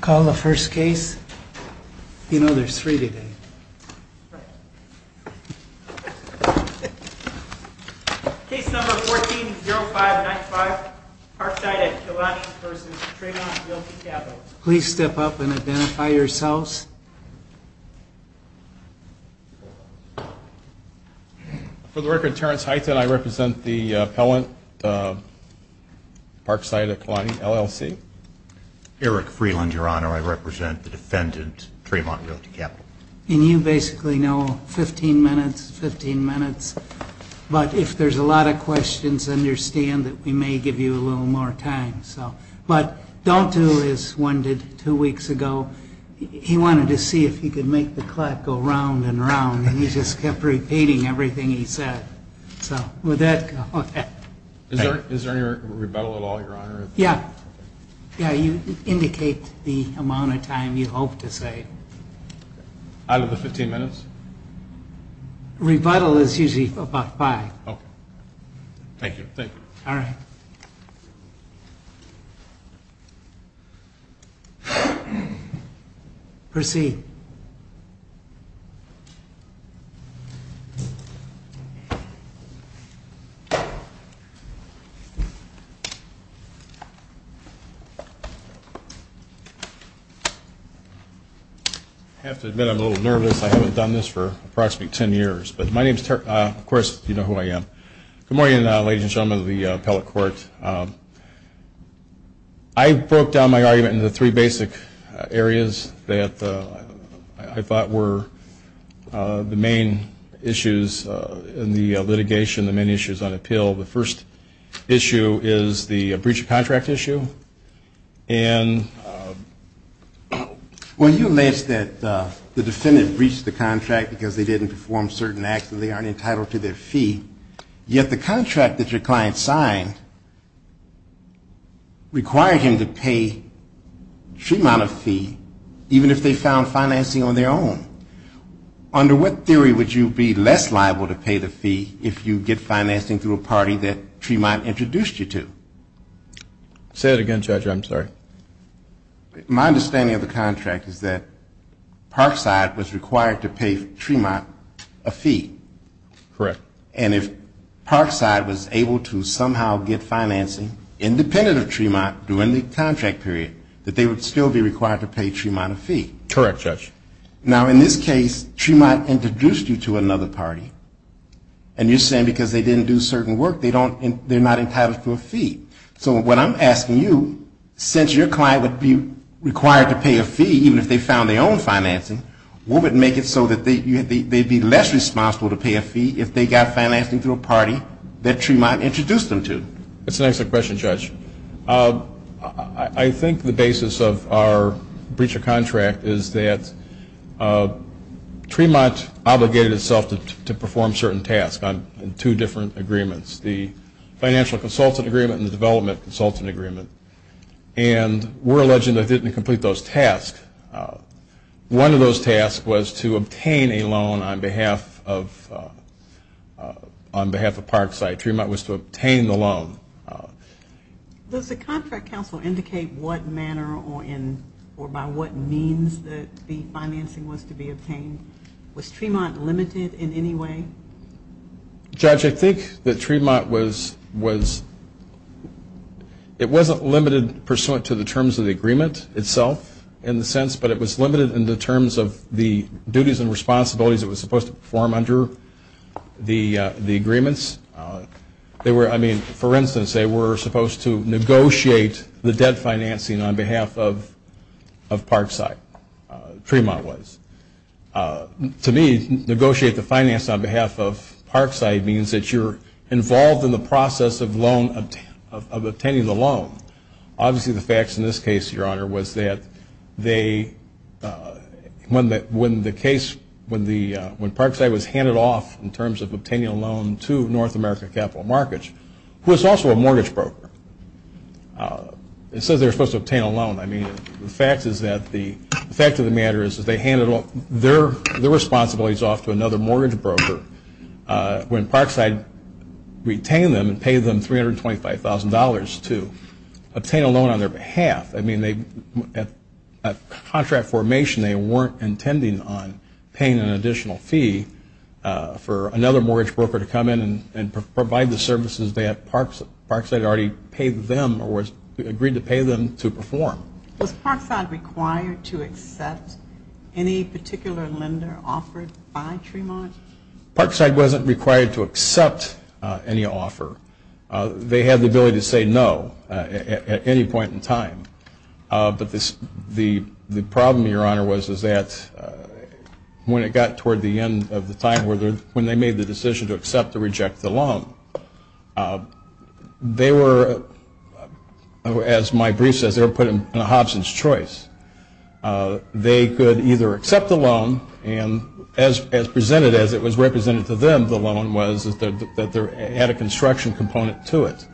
Call the first case. You know there's three of them. Case number 14-0595 Parkside v. Tremont Realty Capital. Please step up and identify yourselves. For the record, Terrence Heithen, I represent the appellant, Parkside Applied LLC. Eric Freeland, Your Honor, I represent the defendant, Tremont Realty Capital. And you basically know 15 minutes, 15 minutes, but if there's a lot of questions, understand that we may give you a little more time. But don't do as one did two weeks ago. He wanted to see if he could make the clock go round and round, and he just kept repeating everything he said. So with that, go ahead. Is there any rebuttal at all, Your Honor? Yeah. Yeah, you indicate the amount of time you hope to say. Out of the 15 minutes? Rebuttal is usually about five. Thank you. All right. Proceed. I have to admit I'm a little nervous. I haven't done this for approximately 10 years. But my name is Terrence. Of course, you know who I am. Good morning, ladies and gentlemen of the appellate court. I broke down my argument into three basic areas that I thought were the main issues in the litigation, the main issues on appeal. The first issue is the breach of contract issue. And when you alleged that the defendant breached the contract because they didn't perform certain acts and they aren't entitled to their fee, yet the contract that your client signed required him to pay Tremont a fee, even if they found financing on their own. Under what theory would you be less liable to pay the fee if you did financing through a party that Tremont introduced you to? Say it again, Judge. I'm sorry. My understanding of the contract is that Parkside was required to pay Tremont a fee. Correct. And if Parkside was able to somehow get financing independent of Tremont during the contract period, that they would still be required to pay Tremont a fee. Correct, Judge. Now, in this case, Tremont introduced you to another party. And you're saying because they didn't do certain work, they're not entitled to a fee. So what I'm asking you, since your client would be required to pay a fee, even if they found their own financing, what would make it so that they'd be less responsible to pay a fee if they got financing through a party that Tremont introduced them to? That's an excellent question, Judge. I think the basis of our breach of contract is that Tremont obligated itself to perform certain tasks on two different agreements, the financial consultant agreement and the development consultant agreement. And we're alleged that they didn't complete those tasks. One of those tasks was to obtain a loan on behalf of Parkside. Tremont was to obtain the loan. Does the contract counsel indicate what manner or by what means the financing was to be obtained? Was Tremont limited in any way? Judge, I think that Tremont was, it wasn't limited pursuant to the terms of the agreement itself in the sense, but it was limited in the terms of the duties and responsibilities it was supposed to perform under the agreements. I mean, for instance, they were supposed to negotiate the debt financing on behalf of Parkside. Tremont was. To me, negotiate the financing on behalf of Parkside means that you're involved in the process of obtaining the loan. Obviously, the facts in this case, Your Honor, was that they, when the case, when Parkside was handed off in terms of obtaining a loan to North American Capital Markets, who is also a mortgage broker, and so they're supposed to obtain a loan. I mean, the fact is that, the fact of the matter is that they handed their responsibilities off to another mortgage broker when Parkside retained them and paid them $325,000 to obtain a loan on their behalf. I mean, at contract formation, they weren't intending on paying an additional fee for another mortgage broker to come in and provide the services that Parkside already paid them or agreed to pay them to perform. Was Parkside required to accept any particular lender offered by Tremont? Parkside wasn't required to accept any offer. They had the ability to say no at any point in time. But the problem, Your Honor, was that when it got toward the end of the time when they made the decision to accept or they had to reject the loan, they were, as my brief says, they were put in Hobson's choice. They could either accept the loan and, as presented as it was represented to them, the loan was that it had a construction component to it.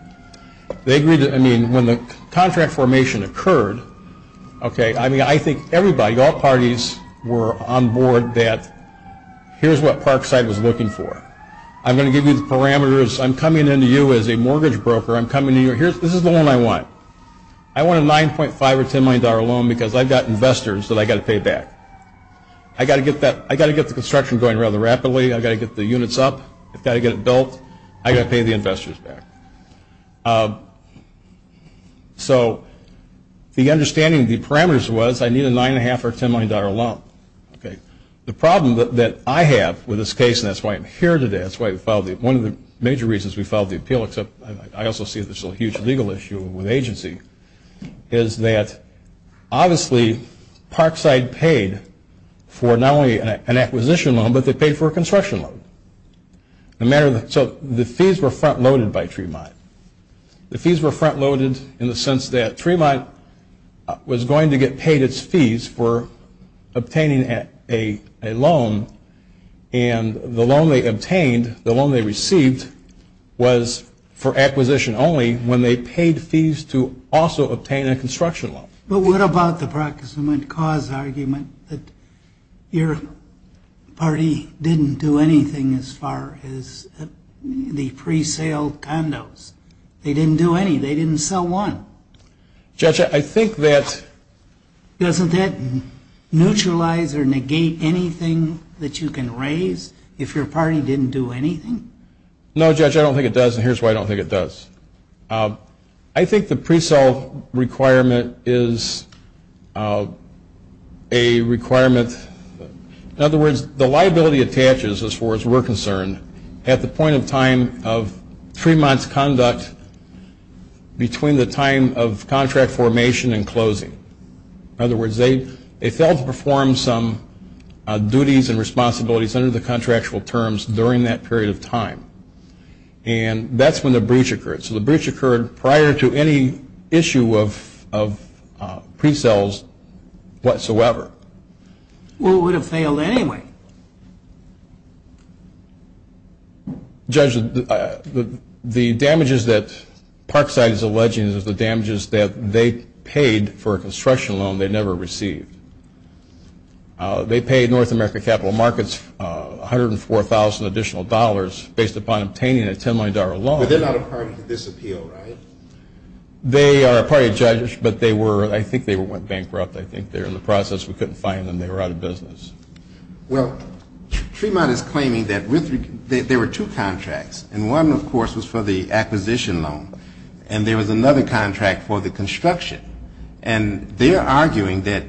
They agreed that, I mean, when the contract formation occurred, okay, I mean, I think everybody, I think all parties were on board that here's what Parkside was looking for. I'm going to give you the parameters. I'm coming in to you as a mortgage broker. I'm coming to you. This is the loan I want. I want a $9.5 or $10 million loan because I've got investors that I've got to pay back. I've got to get the construction going rather rapidly. I've got to get the units up. I've got to get it built. I've got to pay the investors back. So the understanding of the parameters was I need a $9.5 or $10 million loan. Okay. The problem that I have with this case, and that's why I'm here today, that's why we filed it, one of the major reasons we filed the appeal, except I also see this as a huge legal issue with agency, is that obviously Parkside paid for not only an acquisition loan, but they paid for a construction loan. So the fees were front-loaded by Tremont. The fees were front-loaded in the sense that Tremont was going to get paid its fees for obtaining a loan, and the loan they obtained, the loan they received, was for acquisition only when they paid fees to also obtain a construction loan. But what about the proximate cause argument that your party didn't do anything as far as the pre-sale condos? They didn't do any. They didn't sell one. Judge, I think that... Doesn't that neutralize or negate anything that you can raise if your party didn't do anything? No, Judge, I don't think it does, and here's why I don't think it does. I think the pre-sale requirement is a requirement... In other words, the liability attaches, as far as we're concerned, at the point in time of Tremont's conduct between the time of contract formation and closing. In other words, they failed to perform some duties and responsibilities under the contractual terms during that period of time, and that's when the breach occurred. So the breach occurred prior to any issue of pre-sales whatsoever. Well, it would have failed anyway. Judge, the damages that Parkside is alleging is the damages that they paid for a construction loan they never received. They paid North America Capital Markets $104,000 additional dollars based upon obtaining a $10 million loan. But they're not a crime to disappeal, right? They are a party of judges, but I think they went bankrupt. I think they're in the process. We couldn't find them. They were out of business. Well, Tremont is claiming that there were two contracts, and one, of course, was for the acquisition loan, and there was another contract for the construction, and they're arguing that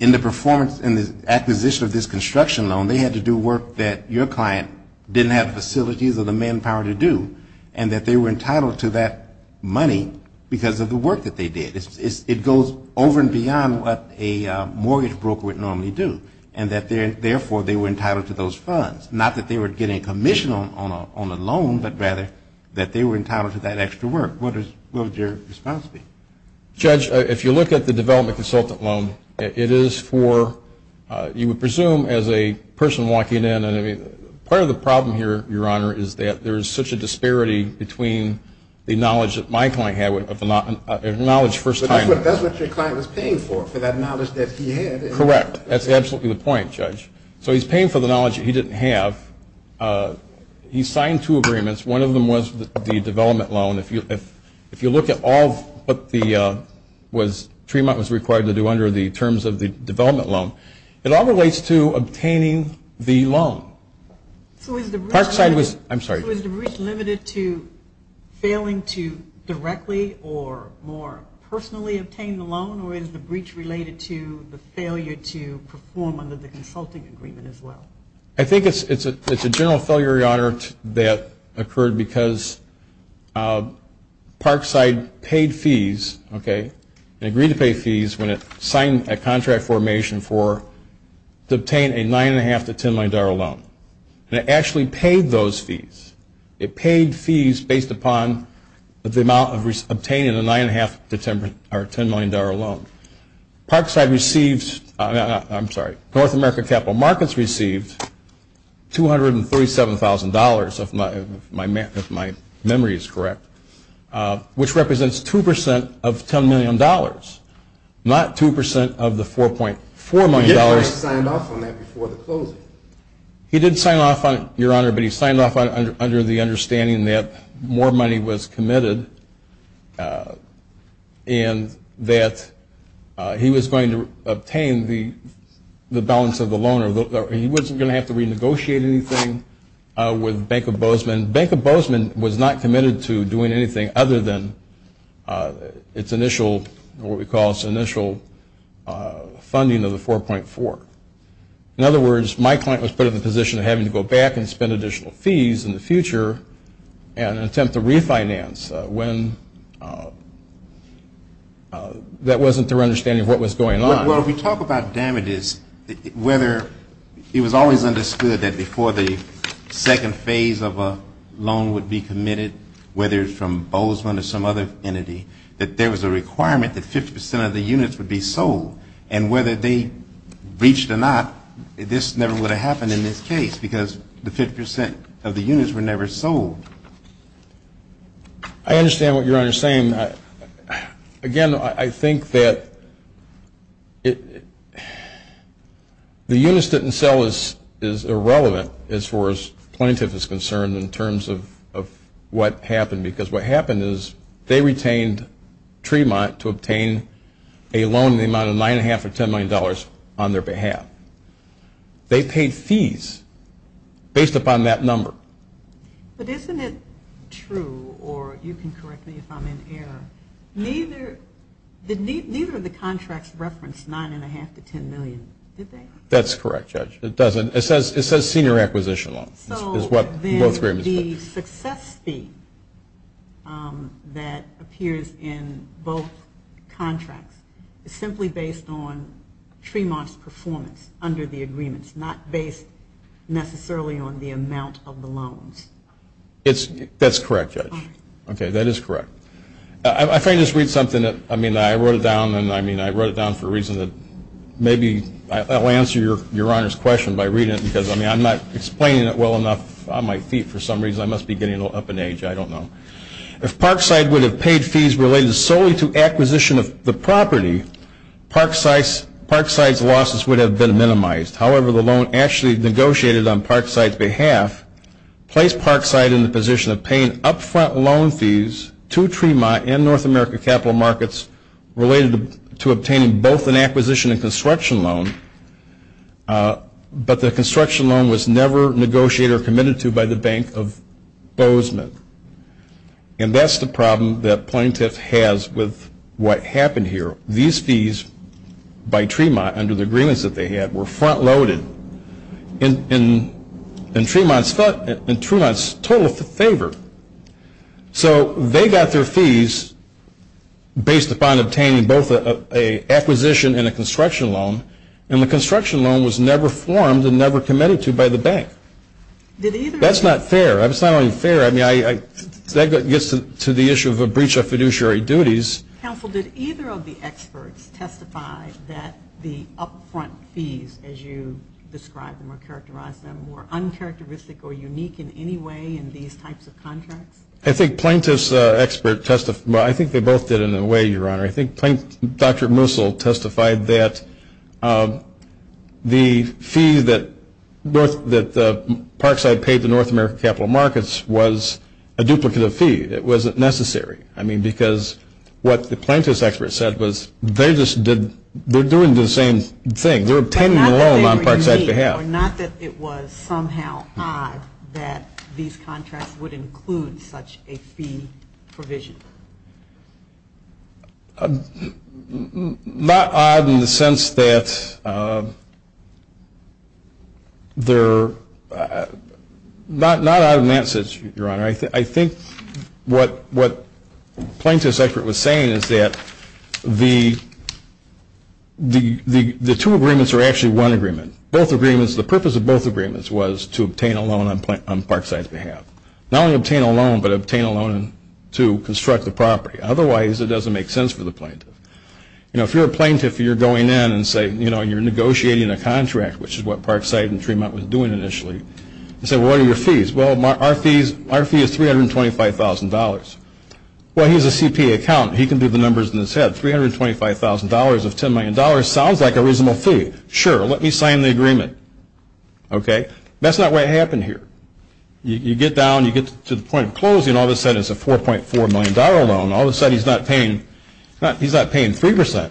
in the acquisition of this construction loan, they had to do work that your client didn't have the facilities or the manpower to do, and that they were entitled to that money because of the work that they did. It goes over and beyond what a mortgage broker would normally do, and that therefore they were entitled to those funds, not that they were getting a commission on a loan, but rather that they were entitled to that extra work. What would your response be? Judge, if you look at the development consultant loan, it is for, you would presume as a person walking in, part of the problem here, Your Honor, is that there is such a disparity between the knowledge that my client had and the knowledge first time. But that's what your client was paying for, for that knowledge that he had. Correct. That's absolutely the point, Judge. So he's paying for the knowledge that he didn't have. He signed two agreements. One of them was the development loan. If you look at all of what Tremont was required to do under the terms of the development loan, it all relates to obtaining the loan. So is the breach limited to failing to directly or more personally obtain the loan, or is the breach related to the failure to perform under the consulting agreement as well? I think it's a general failure, Your Honor, that occurred because Parkside paid fees, okay, they agreed to pay fees when it signed a contract formation to obtain a $9.5 to $10 million loan. It actually paid those fees. It paid fees based upon the amount obtained in a $9.5 to $10 million loan. Parkside received, I'm sorry, North America Capital Markets received $237,000, if my memory is correct, which represents 2% of $10 million, not 2% of the $4.4 million. He actually signed off on that before the closing. He did sign off, Your Honor, but he signed off under the understanding that more money was committed and that he was going to obtain the balance of the loan. He wasn't going to have to renegotiate anything with Bank of Bozeman. Bank of Bozeman was not committed to doing anything other than its initial, what we call its initial funding of the $4.4. In other words, my client was put in the position of having to go back and spend additional fees in the future and attempt to refinance when that wasn't their understanding of what was going on. When we talk about damages, whether it was always understood that before the second phase of a loan would be committed, whether it's from Bozeman or some other entity, that there was a requirement that 50% of the units would be sold and whether they reached or not, this never would have happened in this case because the 50% of the units were never sold. I understand what Your Honor is saying. Again, I think that the units didn't sell is irrelevant as far as plaintiff is concerned in terms of what happened because what happened is they retained Tremont to obtain a loan in the amount of $9.5 or $10 million on their behalf. They paid fees based upon that number. But isn't it true, or you can correct me if I'm in error, neither of the contracts referenced $9.5 to $10 million, did they? That's correct, Judge. It doesn't. It says senior acquisition loan is what most people think. So then the success fee that appears in both contracts is simply based on Tremont's performance under the agreements, not based necessarily on the amount of the loans. That's correct, Judge. Okay, that is correct. I'll try to just read something. I mean, I wrote it down for a reason. Maybe I'll answer Your Honor's question by reading it because I'm not explaining it well enough on my feet for some reason. I must be getting up in age. I don't know. If Parkside would have paid fees related solely to acquisition of the property, Parkside's losses would have been minimized. However, the loan actually negotiated on Parkside's behalf placed Parkside in the position of paying upfront loan fees to Tremont and North America capital markets related to obtaining both an acquisition and construction loan, but the construction loan was never negotiated or committed to by the Bank of Bozeman. And that's the problem that Plaintiff has with what happened here. These fees by Tremont under the agreements that they had were front loaded and Tremont's total favored. So they got their fees based upon obtaining both an acquisition and a construction loan, and the construction loan was never formed and never committed to by the bank. That's not fair. That's not fair. I mean, that gets to the issue of a breach of fiduciary duties. Counsel, did either of the experts testify that the upfront fees, as you described them or characterized them, were uncharacteristic or unique in any way in these types of contracts? I think Plaintiff's expert testified. I think they both did in a way, Your Honor. I think Dr. Musil testified that the fee that Parkside paid to North America capital markets was a duplicate of the fee that wasn't necessary. I mean, because what the Plaintiff's expert said was they're doing the same thing. We're pending the loan on Parkside's behalf. Your Honor, not that it was somehow odd that these contracts would include such a fee provision. Not odd in the sense that they're not out of nonsense, Your Honor. I think what Plaintiff's expert was saying is that the two agreements are actually one agreement. The purpose of both agreements was to obtain a loan on Parkside's behalf. Not only obtain a loan, but obtain a loan to construct the property. Otherwise, it doesn't make sense for the Plaintiff. If you're a Plaintiff and you're going in and you're negotiating a contract, which is what Parkside and Fremont was doing initially, you say, well, what are your fees? Well, our fee is $325,000. Well, he's a CPA accountant. He can do the numbers in his head. $325,000 of $10 million sounds like a reasonable fee. Sure, let me sign the agreement. That's not what happened here. You get down, you get to the point of closing, all of a sudden it's a $4.4 million loan. All of a sudden he's not paying 3%.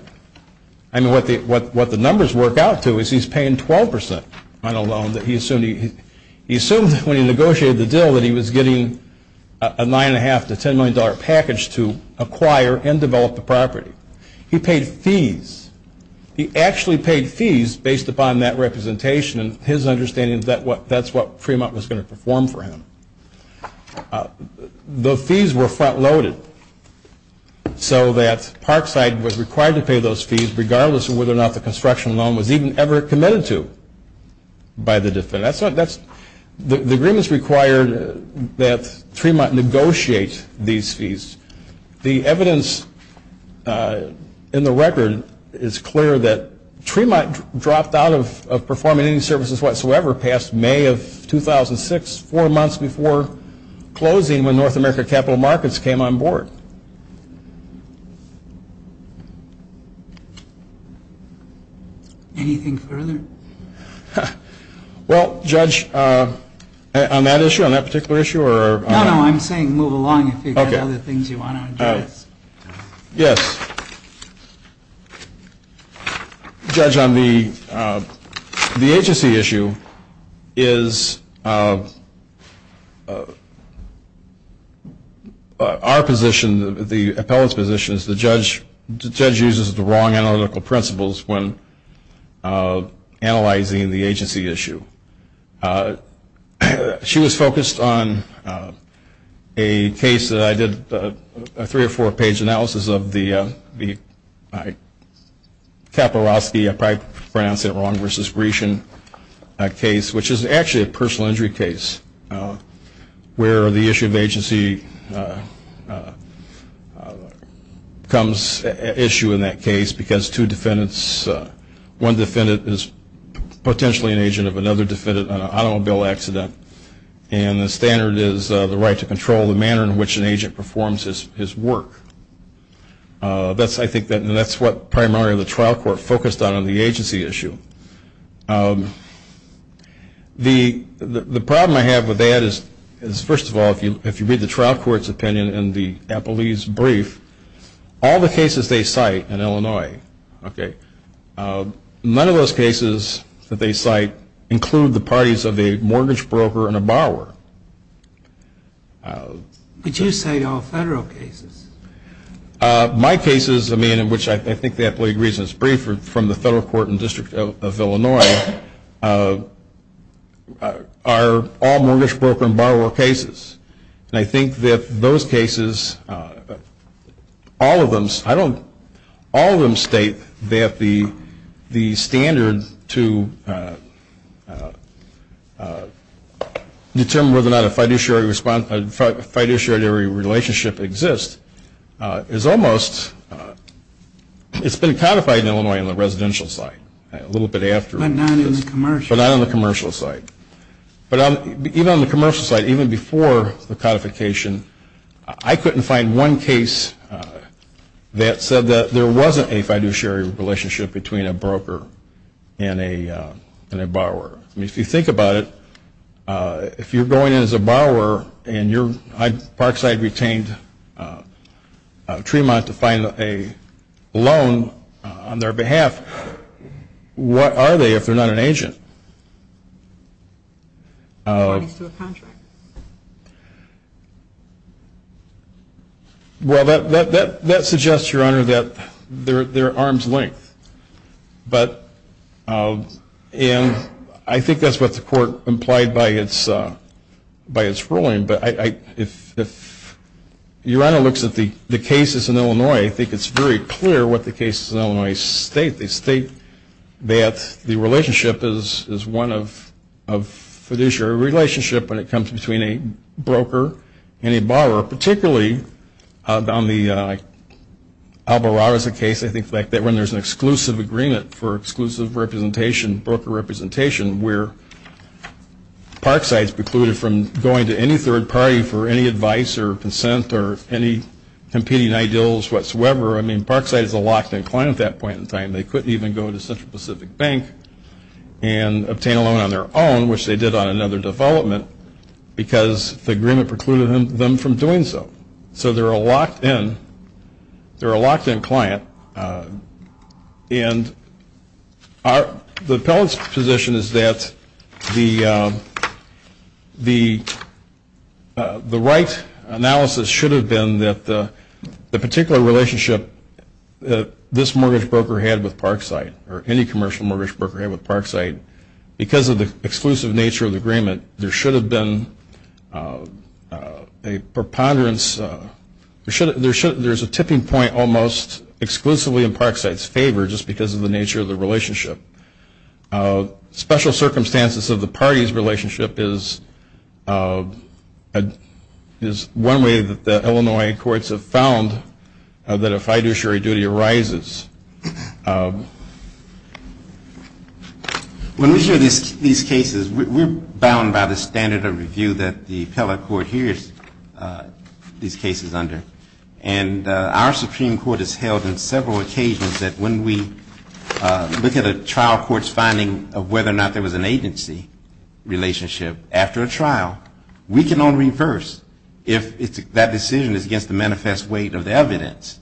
I mean, what the numbers work out to is he's paying 12% on a loan that he assumed when he negotiated the deal that he was getting a $9.5 to $10 million package to acquire and develop the property. He paid fees. He actually paid fees based upon that representation, and his understanding is that's what Fremont was going to perform for him. The fees were front-loaded so that Parkside was required to pay those fees regardless of whether or not the construction loan was even ever committed to by the defendant. The agreement is required that Fremont negotiate these fees. The evidence in the record is clear that Fremont dropped out of performing any services whatsoever past May of 2006, four months before closing when North America Capital Markets came on board. Anything further? Well, Judge, on that issue, on that particular issue? No, no, I'm saying move along if you've got other things you want to address. Yes. Judge, on the agency issue, our position, the appellate's position, is the judge uses the wrong analytical principles when analyzing the agency issue. She was focused on a case that I did a three- or four-page analysis of, the Kapelrowski, I probably pronounced it wrong, versus Gresham case, which is actually a personal injury case where the issue of agency comes at issue in that case because two defendants, one defendant is potentially an agent of another defendant on an automobile accident, and the standard is the right to control the manner in which an agent performs his work. I think that's what primarily the trial court focused on on the agency issue. The problem I have with that is, first of all, if you read the trial court's opinion in the appellee's brief, all the cases they cite in Illinois, okay, none of those cases that they cite include the parties of a mortgage broker and a borrower. Did you say all federal cases? My cases, I mean, in which I think the appellee agrees in his brief, are from the federal court and district of Illinois, are all mortgage broker and borrower cases. And I think that those cases, all of them, I don't, all of them state that the standard to determine whether or not a fiduciary relationship exists is almost, it's been codified in Illinois on the residential side a little bit after. But not on the commercial. But not on the commercial side. But even on the commercial side, even before the codification, I couldn't find one case that said that there wasn't a fiduciary relationship between a broker and a borrower. I mean, if you think about it, if you're going in as a borrower and your parkside retained Tremont to find a loan on their behalf, what are they if they're not an agent? Well, that suggests, Your Honor, that they're arm's length. But, and I think that's what the court implied by its ruling. But if Your Honor looks at the cases in Illinois, I think it's very clear what the cases in Illinois state. They state that the relationship is one of fiduciary relationship when it comes between a broker and a borrower, particularly down the Alborada case, I think it's like that, when there's an exclusive agreement for exclusive representation, broker representation, where parksides precluded from going to any third party for any advice or consent or any competing ideals whatsoever. I mean, parksides were locked and clammed at that point in time. They couldn't even go to Central Pacific Bank and obtain a loan on their own, which they did on another development, because the agreement precluded them from doing so. So they're a locked-in client. And the appellant's position is that the right analysis should have been that the particular relationship this mortgage broker had with parkside or any commercial mortgage broker had with parkside, because of the exclusive nature of the agreement, there should have been a preponderance. There's a tipping point almost exclusively in parkside's favor just because of the nature of the relationship. Special circumstances of the parties' relationship is one way that the Illinois courts have found that a fiduciary duty arises. When we hear these cases, we're bound by the standard of review that the fellow court hears these cases under. And our Supreme Court has held on several occasions that when we look at a trial court's finding of whether or not there was an agency relationship after a trial, we can only reverse if that decision is against the manifest weight of evidence.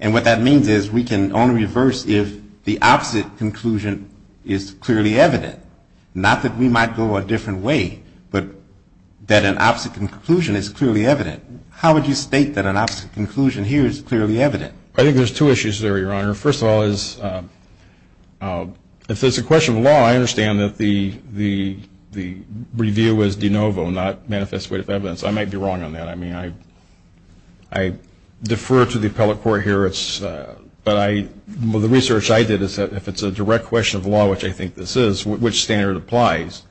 And what that means is we can only reverse if the opposite conclusion is clearly evident. Not that we might go a different way, but that an opposite conclusion is clearly evident. How would you state that an opposite conclusion here is clearly evident? I think there's two issues there, Your Honor. First of all, it's a question of law. I understand that the review was de novo, not manifest weight of evidence. I might be wrong on that. I mean, I defer to the appellate court here. But the research I did is that if it's a direct question of law, which I think this is, which standard applies?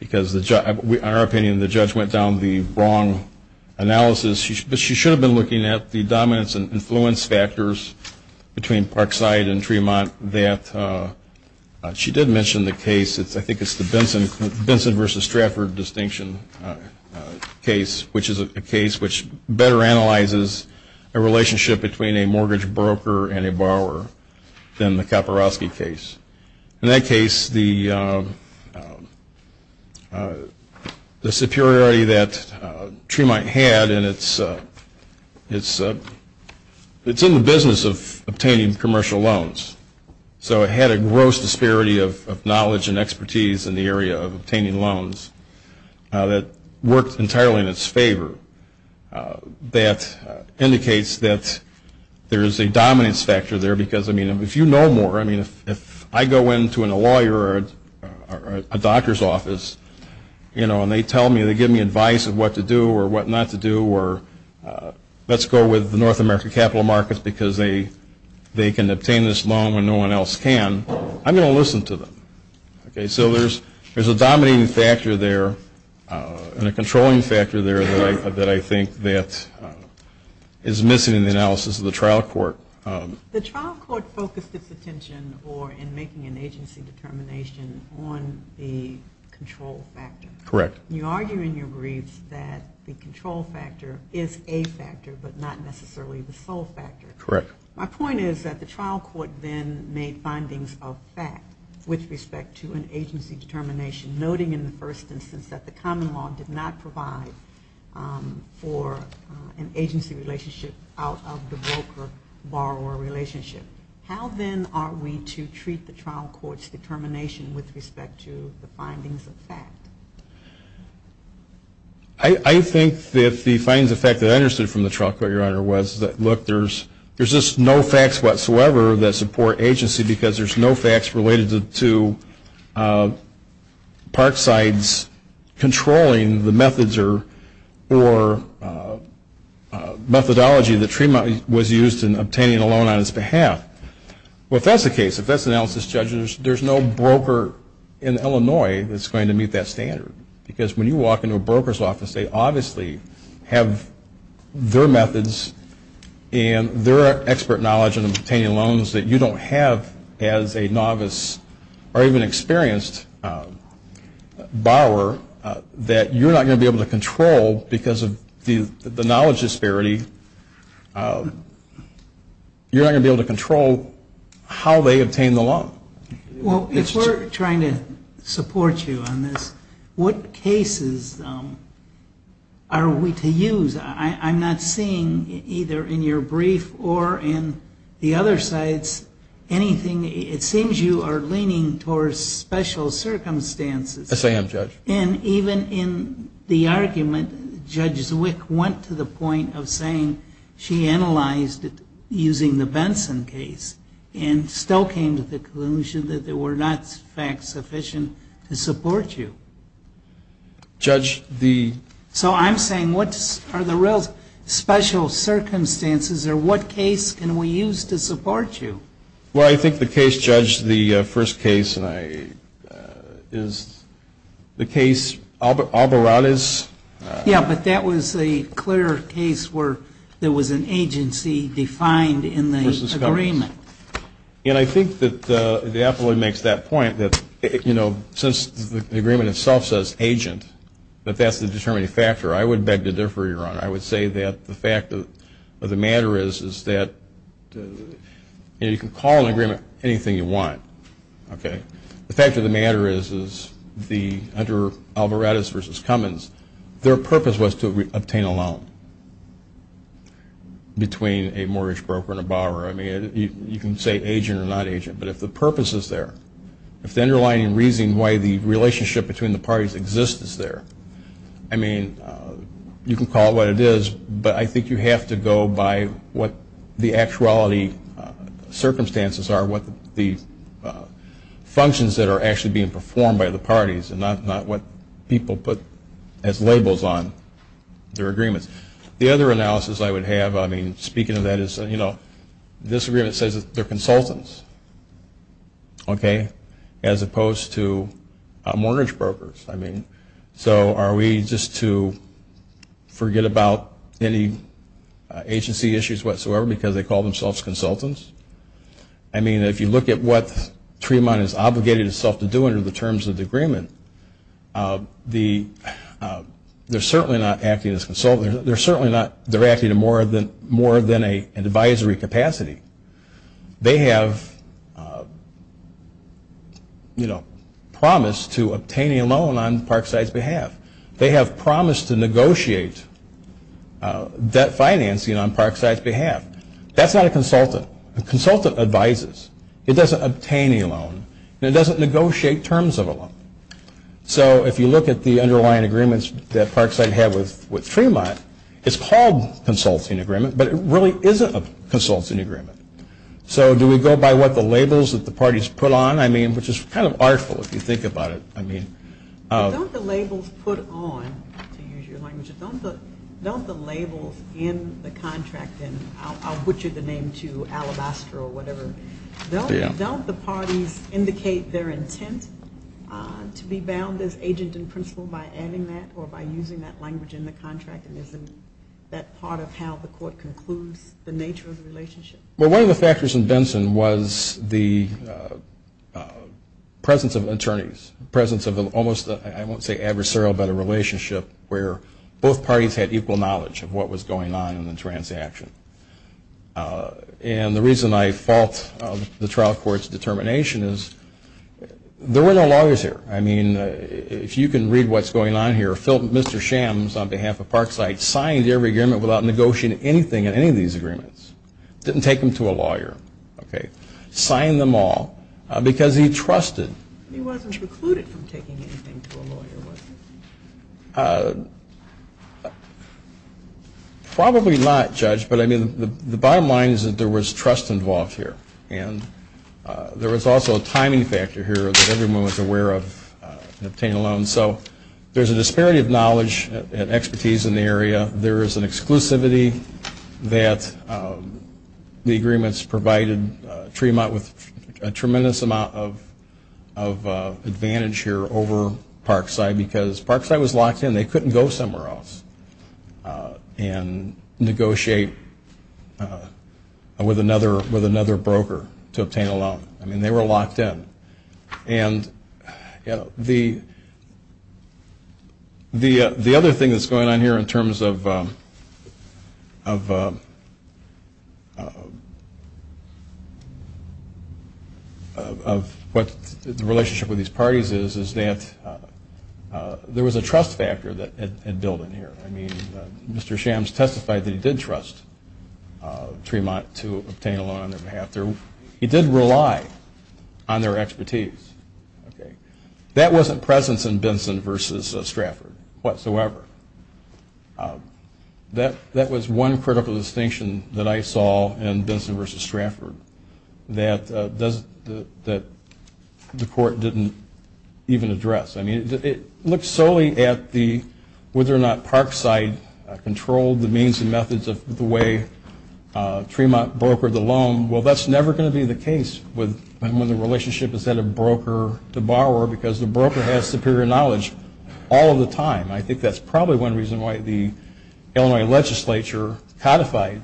Because in our opinion, the judge went down the wrong analysis. She should have been looking at the dominance and influence factors between Parkside and Tremont. She did mention the case, I think it's the Benson v. Stratford distinction case, which is a case which better analyzes a relationship between a mortgage broker and a borrower than the Kaporosky case. In that case, the superiority that Tremont had, and it's in the business of obtaining commercial loans. So it had a gross disparity of knowledge and expertise in the area of obtaining loans that worked entirely in its favor. That indicates that there is a dominance factor there because, I mean, if you know more, I mean, if I go into a lawyer or a doctor's office, you know, and they tell me, they give me advice of what to do or what not to do or let's go with the North American capital markets because they can obtain this loan when no one else can, I'm going to listen to them. So there's a dominating factor there and a controlling factor there that I think that is missing in the analysis of the trial court. The trial court focused its attention in making an agency determination on the control factor. Correct. You argue in your briefs that the control factor is a factor but not necessarily the sole factor. Correct. My point is that the trial court then made findings of fact with respect to an agency determination, noting in the first instance that the common law did not provide for an agency relationship out of the broker-borrower relationship. How then are we to treat the trial court's determination with respect to the findings of fact? I think that the findings of fact that I understood from the trial court, Your Honor, was that, look, there's just no facts whatsoever that support agency because there's no facts related to Parkside's controlling the methods or methodology that Tremont was used in obtaining a loan on its behalf. Well, if that's the case, if that's the analysis, judges, there's no broker in Illinois that's going to meet that standard because when you walk into a broker's office, they obviously have their methods and their expert knowledge in obtaining loans that you don't have as a novice or even experienced borrower that you're not going to be able to control because of the knowledge disparity. You're not going to be able to control how they obtain the loan. Well, if we're trying to support you on this, what cases are we to use? I'm not seeing either in your brief or in the other sites anything. It seems you are leaning towards special circumstances. Yes, I am, Judge. And even in the argument, Judge Zwick went to the point of saying she analyzed it using the Benson case and still came to the conclusion that there were not facts sufficient to support you. Judge, the... So I'm saying what are the real special circumstances or what case can we use to support you? Well, I think the case, Judge, the first case is the case Alvarado's. Yeah, but that was a clear case where there was an agency defined in the agreement. And I think that the affiliate makes that point that, you know, since the agreement itself says agent, that that's the determining factor. I would beg to differ, Your Honor. I would say that the fact of the matter is that you can call an agreement anything you want. The fact of the matter is that under Alvarado's versus Cummins, their purpose was to obtain a loan between a mortgage broker and a borrower. I mean, you can say agent or non-agent, but if the purpose is there, if the underlying reason why the relationship between the parties exists is there, I mean, you can call it what it is, but I think you have to go by what the actuality circumstances are, what the functions that are actually being performed by the parties and not what people put as labels on their agreements. The other analysis I would have, I mean, speaking of that is, you know, this agreement says they're consultants, okay, as opposed to mortgage brokers. I mean, so are we just to forget about any agency issues whatsoever because they call themselves consultants? I mean, if you look at what Tremont is obligated itself to do under the terms of the agreement, they're certainly not acting as consultants. They're certainly not, they're acting more than a advisory capacity. They have, you know, promised to obtain a loan on Parkside's behalf. They have promised to negotiate debt financing on Parkside's behalf. That's not a consultant. A consultant advises. It doesn't obtain a loan. It doesn't negotiate terms of a loan. So if you look at the underlying agreements that Parkside had with Tremont, it's called consulting agreement, but it really isn't a consulting agreement. So do we go by what the labels that the parties put on? I mean, which is kind of artful if you think about it. Don't the labels put on, to use your language, don't the labels in the contract, and I'll butcher the name to alabaster or whatever, don't the parties indicate their intent to be bound as agent in principle by adding that or by using that language in the contract and isn't that part of how the court concludes the nature of the relationship? Well, one of the factors in Benson was the presence of attorneys, presence of almost, I won't say adversarial, but a relationship where both parties had equal knowledge of what was going on in the transaction. And the reason I fault the trial court's determination is there were no lawyers here. I mean, if you can read what's going on here, Mr. Shams, on behalf of Parkside, signed every agreement without negotiating anything in any of these agreements. Didn't take them to a lawyer. Signed them all because he trusted. He wasn't precluded from taking anything to a lawyer, was he? Probably not, Judge, but I mean, the bottom line is that there was trust involved here and there was also a timing factor here that everyone was aware of in obtaining a loan. So there's a disparity of knowledge and expertise in the area. There is an exclusivity that the agreements provided Tremont with a tremendous amount of advantage here over Parkside because Parkside was locked in. I mean, they couldn't go somewhere else and negotiate with another broker to obtain a loan. I mean, they were locked in. And the other thing that's going on here in terms of what the relationship with these parties is, is that there was a trust factor that had built in here. I mean, Mr. Shams testified that he did trust Tremont to obtain a loan on their behalf. He did rely on their expertise. That wasn't present in Benson v. Stratford whatsoever. That was one critical distinction that I saw in Benson v. Stratford that the court didn't even address. I mean, it looks solely at whether or not Parkside controlled the means and methods of the way Tremont brokered the loan. Well, that's never going to be the case when the relationship is that of broker to borrower because the broker has superior knowledge all the time. I think that's probably one reason why the Illinois legislature codified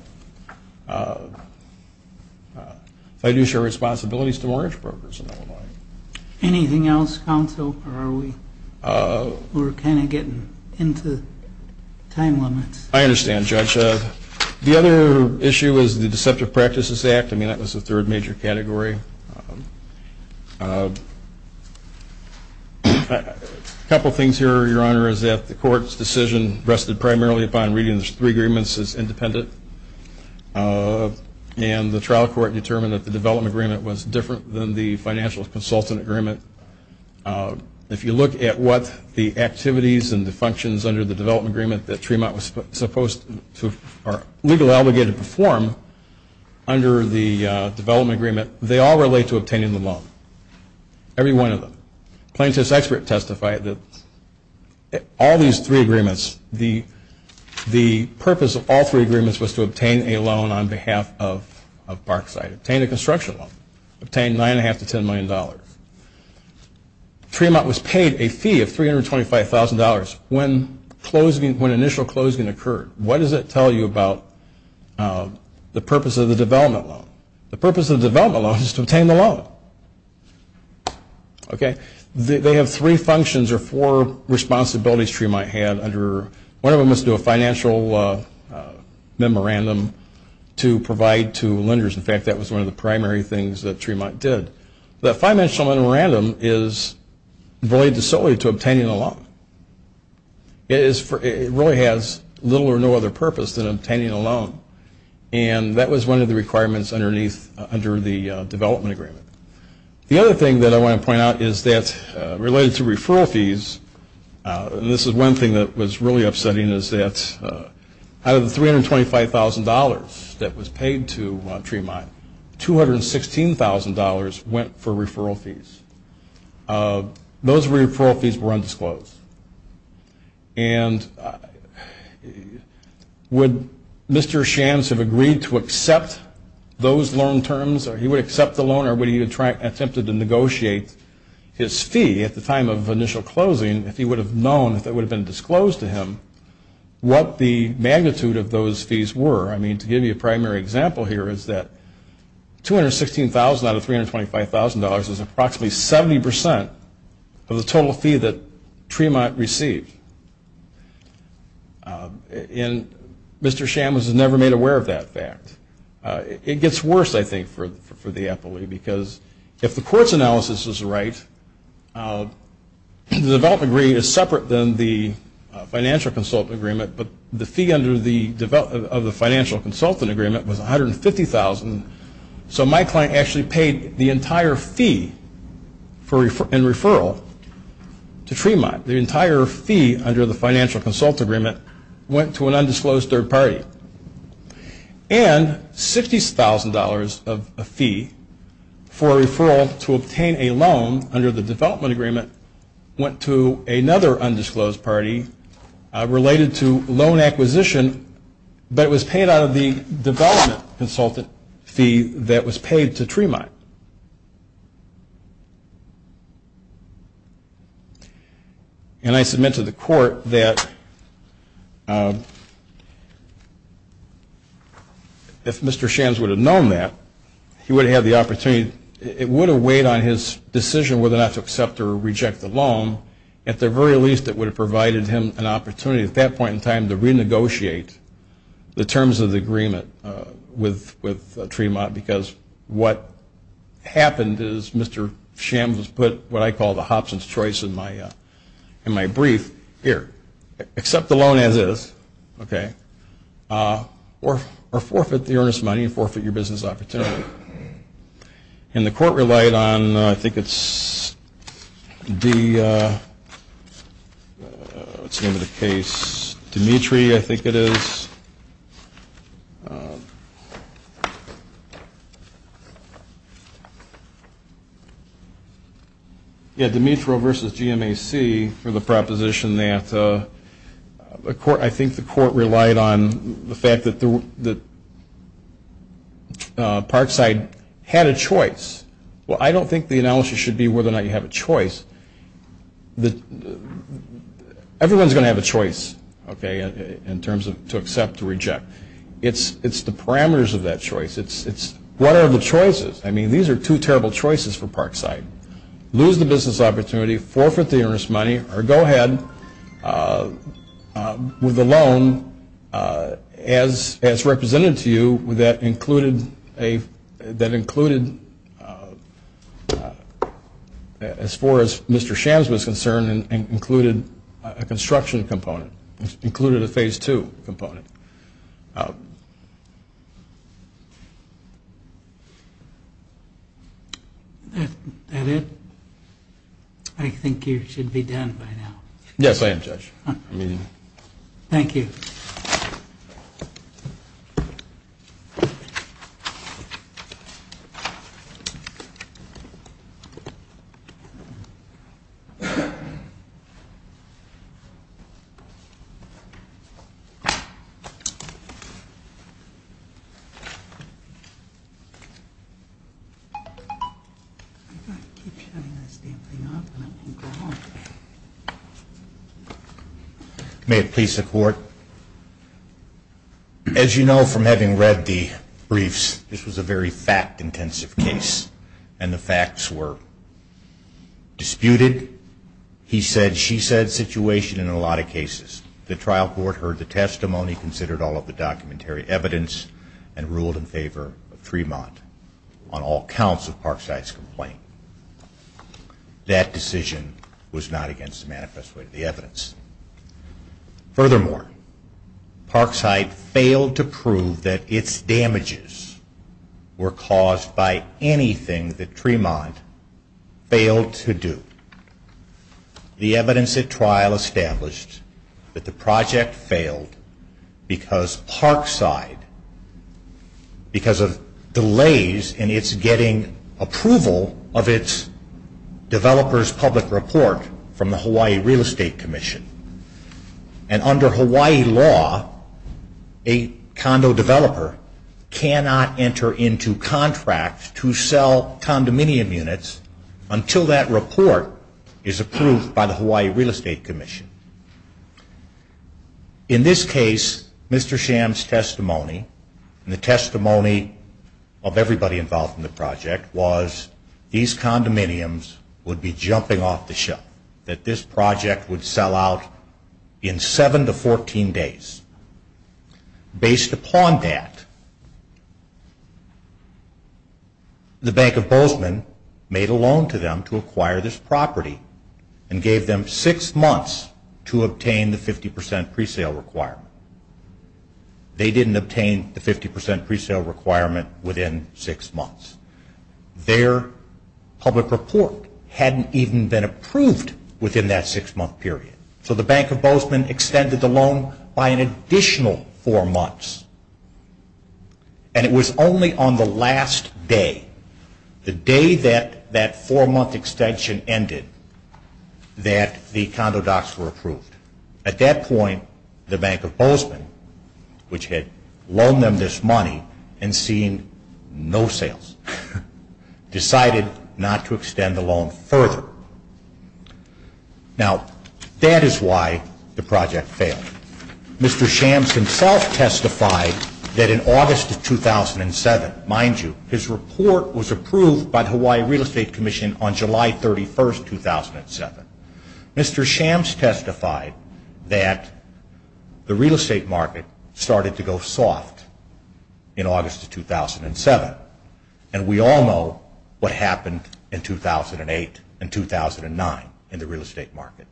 fiduciary responsibilities to mortgage brokers in Illinois. Anything else, counsel, or are we kind of getting into time limits? I understand, Judge. The other issue is the Deceptive Practices Act. I mean, that was the third major category. A couple things here, Your Honor, is that the court's decision rested primarily upon reading the three agreements as independent, and the trial court determined that the development agreement was different than the financial consultant agreement. If you look at what the activities and the functions under the development agreement that Tremont was supposed to, or legally obligated to perform under the development agreement, they all relate to obtaining the loan, every one of them. Plaintiff's expert testified that all these three agreements, the purpose of all three agreements was to obtain a loan on behalf of Parkside, obtain a construction loan, obtain $9.5 to $10 million. Tremont was paid a fee of $325,000 when initial closing occurred. What does it tell you about the purpose of the development loan? The purpose of the development loan is to obtain the loan. They have three functions or four responsibilities Tremont had. One of them was to do a financial memorandum to provide to lenders. In fact, that was one of the primary things that Tremont did. The financial memorandum is void solely to obtaining a loan. It really has little or no other purpose than obtaining a loan, and that was one of the requirements under the development agreement. The other thing that I want to point out is that related to referral fees, this is one thing that was really upsetting is that out of the $325,000 that was paid to Tremont, $216,000 went for referral fees. Those referral fees were undisclosed. And would Mr. Shands have agreed to accept those loan terms, or he would accept the loan, or would he have attempted to negotiate his fee at the time of initial closing if he would have known, if it would have been disclosed to him, what the magnitude of those fees were? I mean, to give you a primary example here is that $216,000 out of $325,000 is approximately 70% of the total fee that Tremont received. And Mr. Shands was never made aware of that fact. It gets worse, I think, for the FOA, because if the court's analysis is right, the development agreement is separate than the financial consultant agreement, but the fee under the development of the financial consultant agreement was $150,000, so my client actually paid the entire fee in referral to Tremont. The entire fee under the financial consultant agreement went to an undisclosed third party. And $60,000 of a fee for a referral to obtain a loan under the development agreement went to another undisclosed party related to loan acquisition that was paid out of the development consultant fee that was paid to Tremont. And I submit to the court that if Mr. Shands would have known that, he would have had the opportunity, it would have weighed on his decision whether or not to accept or reject the loan. At the very least, it would have provided him an opportunity at that point in time to renegotiate the terms of the agreement with Tremont, because what happened is Mr. Shands put what I call the Hobson's choice in my brief here. Accept the loan as is, or forfeit the earnest money and forfeit your business opportunity. And the court relied on, I think it's the, what's the name of the case? Dimitri, I think it is. Yeah, Dimitri versus GMAC for the proposition that, I think the court relied on the fact that Parkside had a choice. Well, I don't think the analysis should be whether or not you have a choice. Everyone's going to have a choice, okay, in terms of to accept, to reject. It's the parameters of that choice. It's what are the choices? I mean, these are two terrible choices for Parkside. Lose the business opportunity, forfeit the earnest money, or go ahead with the loan as represented to you that included, as far as Mr. Shands was concerned, included a construction component, included a phase two component. That's it. I think you should be done by now. Yes, I am, Judge. Thank you. Thank you. May it please the Court. As you know from having read the briefs, this was a very fact-intensive case, and the facts were disputed. He said, she said, situation in a lot of cases. The trial court heard the testimony, considered all of the documentary evidence, and ruled in favor of Tremont on all counts of Parkside's complaint. That decision was not against the manifesto of the evidence. Furthermore, Parkside failed to prove that its damages were caused by anything that Tremont failed to do. The evidence at trial established that the project failed because Parkside, because of delays in its getting approval of its developer's public report from the Hawaii Real Estate Commission, and under Hawaii law, a condo developer cannot enter into contract to sell condominium units until that report is approved by the Hawaii Real Estate Commission. In this case, Mr. Shands' testimony, and the testimony of everybody involved in the project, was these condominiums would be jumping off the ship, that this project would sell out in 7 to 14 days. Based upon that, the Bank of Bozeman made a loan to them to acquire this property and gave them six months to obtain the 50 percent presale requirement. They didn't obtain the 50 percent presale requirement within six months. Their public report hadn't even been approved within that six-month period. So the Bank of Bozeman extended the loan by an additional four months, and it was only on the last day, the day that that four-month extension ended, that the condo docs were approved. At that point, the Bank of Bozeman, which had loaned them this money and seen no sales, decided not to extend the loan further. Now, that is why the project failed. Mr. Shands himself testified that in August of 2007, mind you, his report was approved by the Hawaii Real Estate Commission on July 31, 2007. Mr. Shands testified that the real estate market started to go soft in August of 2007, and we all know what happened in 2008 and 2009 in the real estate market.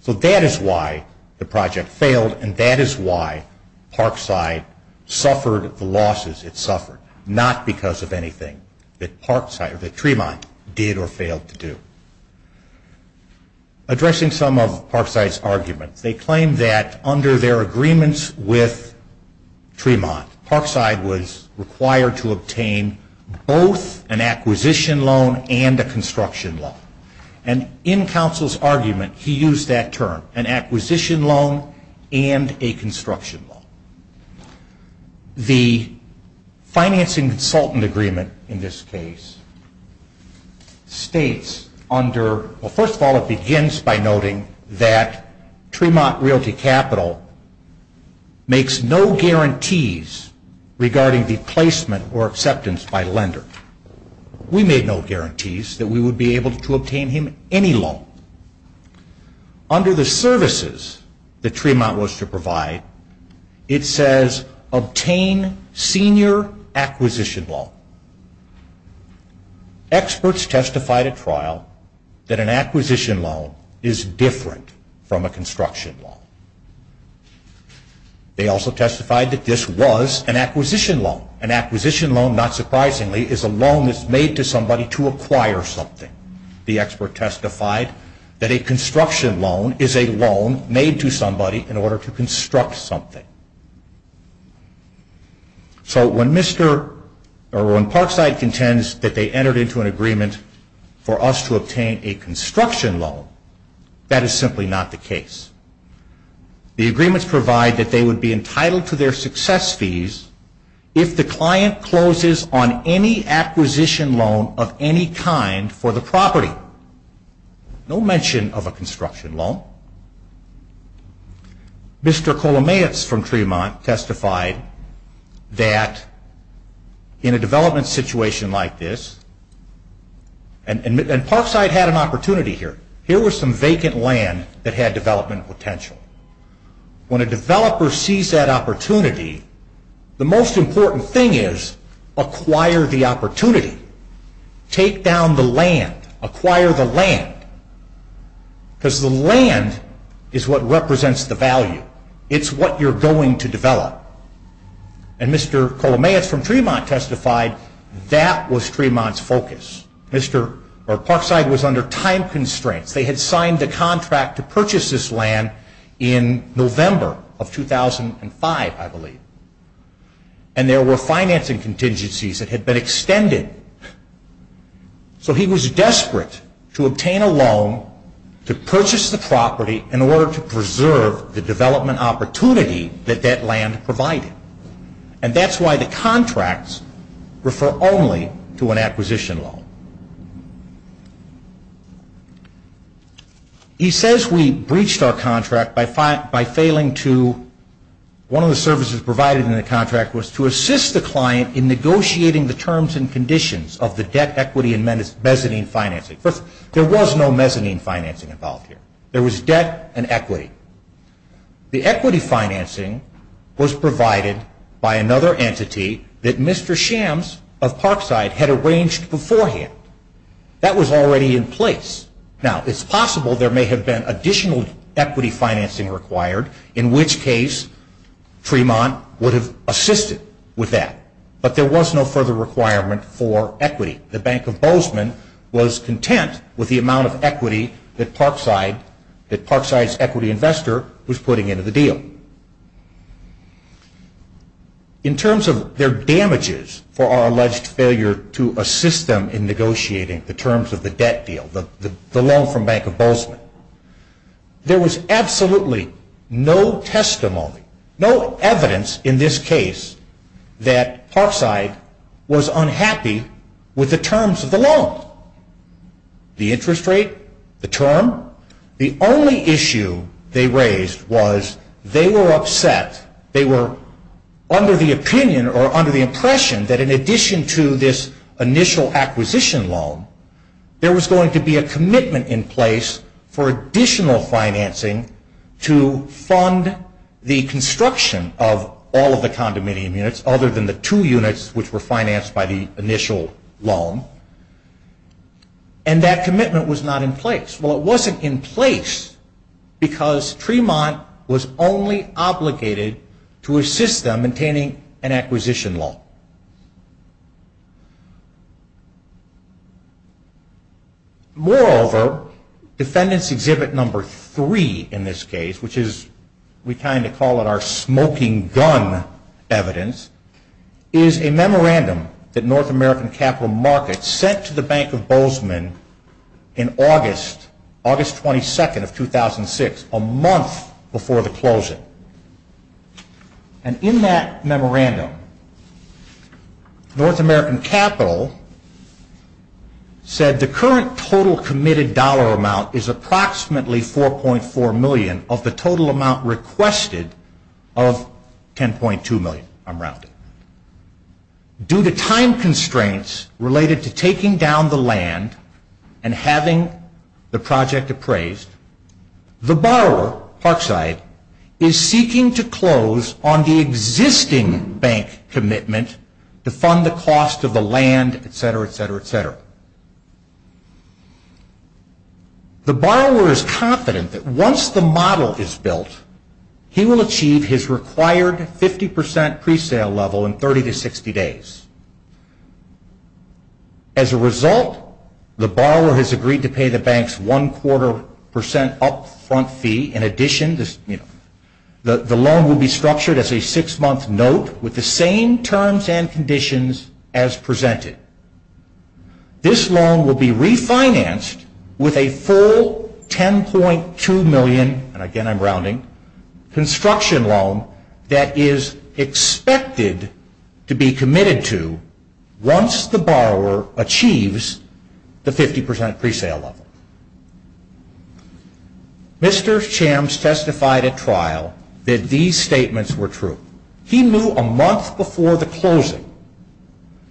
So that is why the project failed, and that is why Parkside suffered the losses it suffered, not because of anything that Parkside or that Tremont did or failed to do. Addressing some of Parkside's argument, they claimed that under their agreements with Tremont, Parkside was required to obtain both an acquisition loan and a construction loan. And in Council's argument, he used that term, an acquisition loan and a construction loan. The financing consultant agreement in this case states under... Well, first of all, it begins by noting that Tremont Realty Capital makes no guarantees regarding the placement or acceptance by a lender. We made no guarantees that we would be able to obtain him any loan. Under the services that Tremont was to provide, it says obtain senior acquisition loan. Experts testified at trial that an acquisition loan is different from a construction loan. They also testified that this was an acquisition loan. An acquisition loan, not surprisingly, is a loan that's made to somebody to acquire something. The expert testified that a construction loan is a loan made to somebody in order to construct something. So when Parkside contends that they entered into an agreement for us to obtain a construction loan, that is simply not the case. The agreements provide that they would be entitled to their success fees if the client closes on any acquisition loan of any kind for the property. No mention of a construction loan. Mr. Kolomets from Tremont testified that in a development situation like this... And Parkside had an opportunity here. Here was some vacant land that had development potential. When a developer sees that opportunity, the most important thing is acquire the opportunity. Take down the land. Acquire the land. Because the land is what represents the value. It's what you're going to develop. And Mr. Kolomets from Tremont testified that was Tremont's focus. Parkside was under time constraints. They had signed a contract to purchase this land in November of 2005, I believe. And there were financing contingencies that had been extended. So he was desperate to obtain a loan to purchase the property in order to preserve the development opportunity that that land provided. And that's why the contracts refer only to an acquisition loan. He says we breached our contract by failing to... One of the services provided in the contract was to assist the client in negotiating the terms and conditions of the debt, equity, and mezzanine financing. There was no mezzanine financing involved here. There was debt and equity. The equity financing was provided by another entity that Mr. Shams of Parkside had arranged beforehand. That was already in place. It's possible there may have been additional equity financing required, in which case Tremont would have assisted with that. But there was no further requirement for equity. The Bank of Bozeman was content with the amount of equity that Parkside's equity investor was putting into the deal. In terms of their damages for our alleged failure to assist them in negotiating the terms of the debt deal, the loan from Bank of Bozeman, there was absolutely no testimony, no evidence in this case, that Parkside was unhappy with the terms of the loan. The interest rate, the term. The only issue they raised was they were upset. They were under the opinion or under the impression that in addition to this initial acquisition loan, there was going to be a commitment in place for additional financing to fund the construction of all of the condominium units, other than the two units which were financed by the initial loan. And that commitment was not in place. Well, it wasn't in place because Tremont was only obligated to assist them in obtaining an acquisition loan. Moreover, defendants exhibit number three in this case, which is, we kind of call it our smoking gun evidence, is a memorandum that North American Capital Markets sent to the Bank of Bozeman in August, August 22nd of 2006, a month before the closure. And in that memorandum, North American Capital said the current total committed dollar amount is approximately $4.4 million of the total amount requested of $10.2 million. Due to time constraints related to taking down the land and having the project appraised, the borrower, Parkside, is seeking to close on the existing bank commitment to fund the cost of the land, etc., etc., etc. The borrower is confident that once the model is built, he will achieve his required 50 percent presale level in 30 to 60 days. As a result, the borrower has agreed to pay the bank's one-quarter percent up-front fee. In addition, the loan will be structured as a six-month note with the same terms and conditions as presented. This loan will be refinanced with a full $10.2 million, and again I'm rounding, construction loan that is expected to be committed to once the borrower achieves the 50 percent presale level. Mr. Shams testified at trial that these statements were true. He knew a month before the closing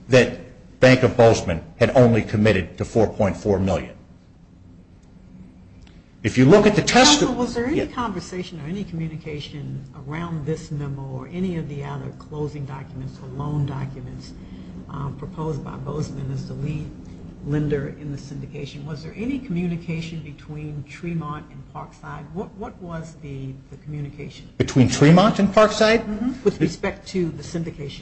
that Bank of Bozeman had only committed to $4.4 million. If you look at the testimony... Was there any conversation or any communication around this memo or any of the other closing documents or loan documents proposed by Bozeman as the lead lender in the syndication? Was there any communication between Tremont and Parkside? What was the communication? Between Tremont and Parkside? With respect to the syndication.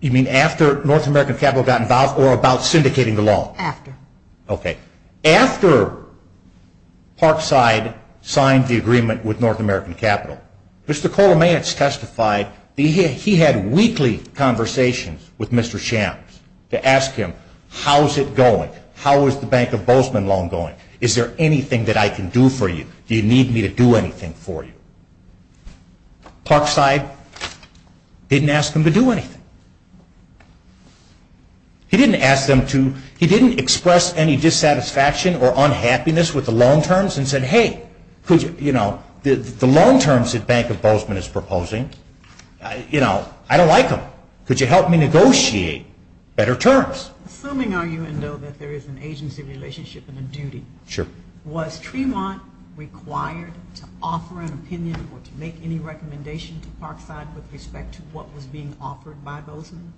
You mean after North American Capital got involved or about syndicating the loan? After. Okay. After Parkside signed the agreement with North American Capital, Mr. Cole-Mance testified that he had weekly conversations with Mr. Shams to ask him, How is it going? How is the Bank of Bozeman loan going? Is there anything that I can do for you? Do you need me to do anything for you? Parkside didn't ask him to do anything. He didn't ask them to... He didn't express any dissatisfaction or unhappiness with the loan terms and said, Hey, the loan terms that Bank of Bozeman is proposing, I don't like them. Could you help me negotiate better terms? Assuming I know that there is an agency relationship and a duty, was Tremont required to offer an opinion or to make any recommendations to Parkside with respect to what was being offered by Bozeman?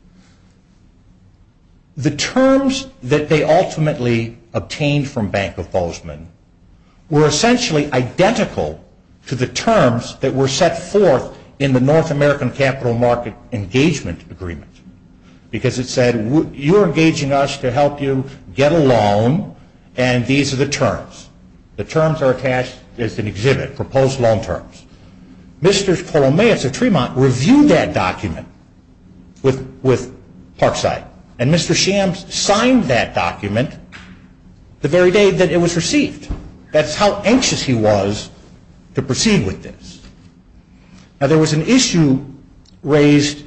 The terms that they ultimately obtained from Bank of Bozeman were essentially identical to the terms that were set forth in the North American Capital Market Engagement Agreement. Because it said, you're engaging us to help you get a loan and these are the terms. The terms are attached as an exhibit, proposed loan terms. Mr. Palomaeus at Tremont reviewed that document with Parkside. And Mr. Shams signed that document the very day that it was received. That's how anxious he was to proceed with this. Now, there was an issue raised,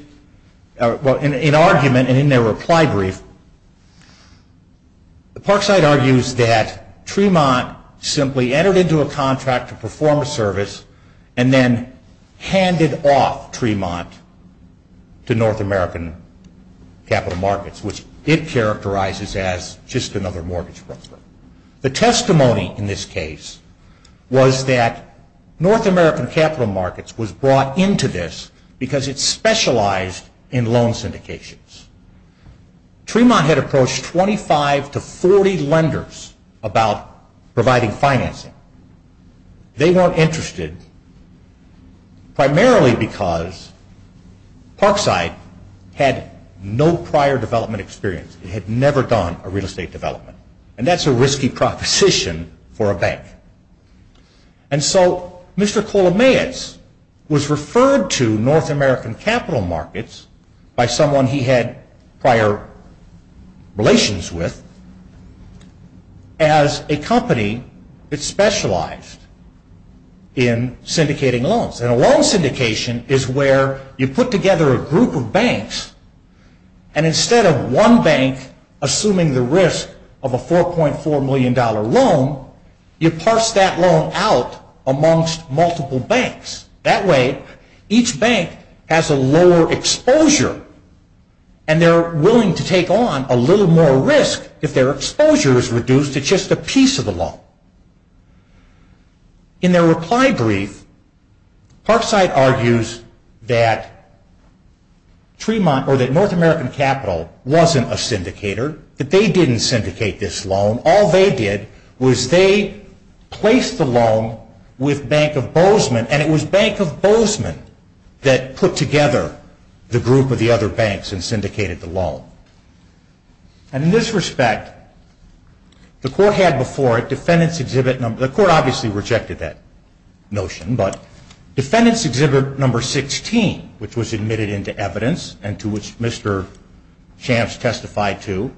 well, an argument in their reply brief. The Parkside argues that Tremont simply entered into a contract to perform a service and then handed off Tremont to North American Capital Markets, which it characterizes as just another mortgage broker. The testimony in this case was that North American Capital Markets was brought into this because it specialized in loan syndications. Tremont had approached 25 to 40 lenders about providing financing. They weren't interested primarily because Parkside had no prior development experience. They had never done a real estate development. And that's a risky proposition for a bank. And so Mr. Palomaeus was referred to North American Capital Markets by someone he had prior relations with as a company that specialized in syndicating loans. And a loan syndication is where you put together a group of banks and instead of one bank assuming the risk of a $4.4 million loan, you parse that loan out amongst multiple banks. That way, each bank has a lower exposure and they're willing to take on a little more risk if their exposure is reduced to just a piece of the loan. In their reply brief, Parkside argues that North American Capital wasn't a syndicator, that they didn't syndicate this loan. All they did was they placed the loan with Bank of Bozeman and it was Bank of Bozeman that put together the group of the other banks and syndicated the loan. And in this respect, the court obviously rejected that notion, but defendants exhibit number 16, which was admitted into evidence and to which Mr. Champs testified to,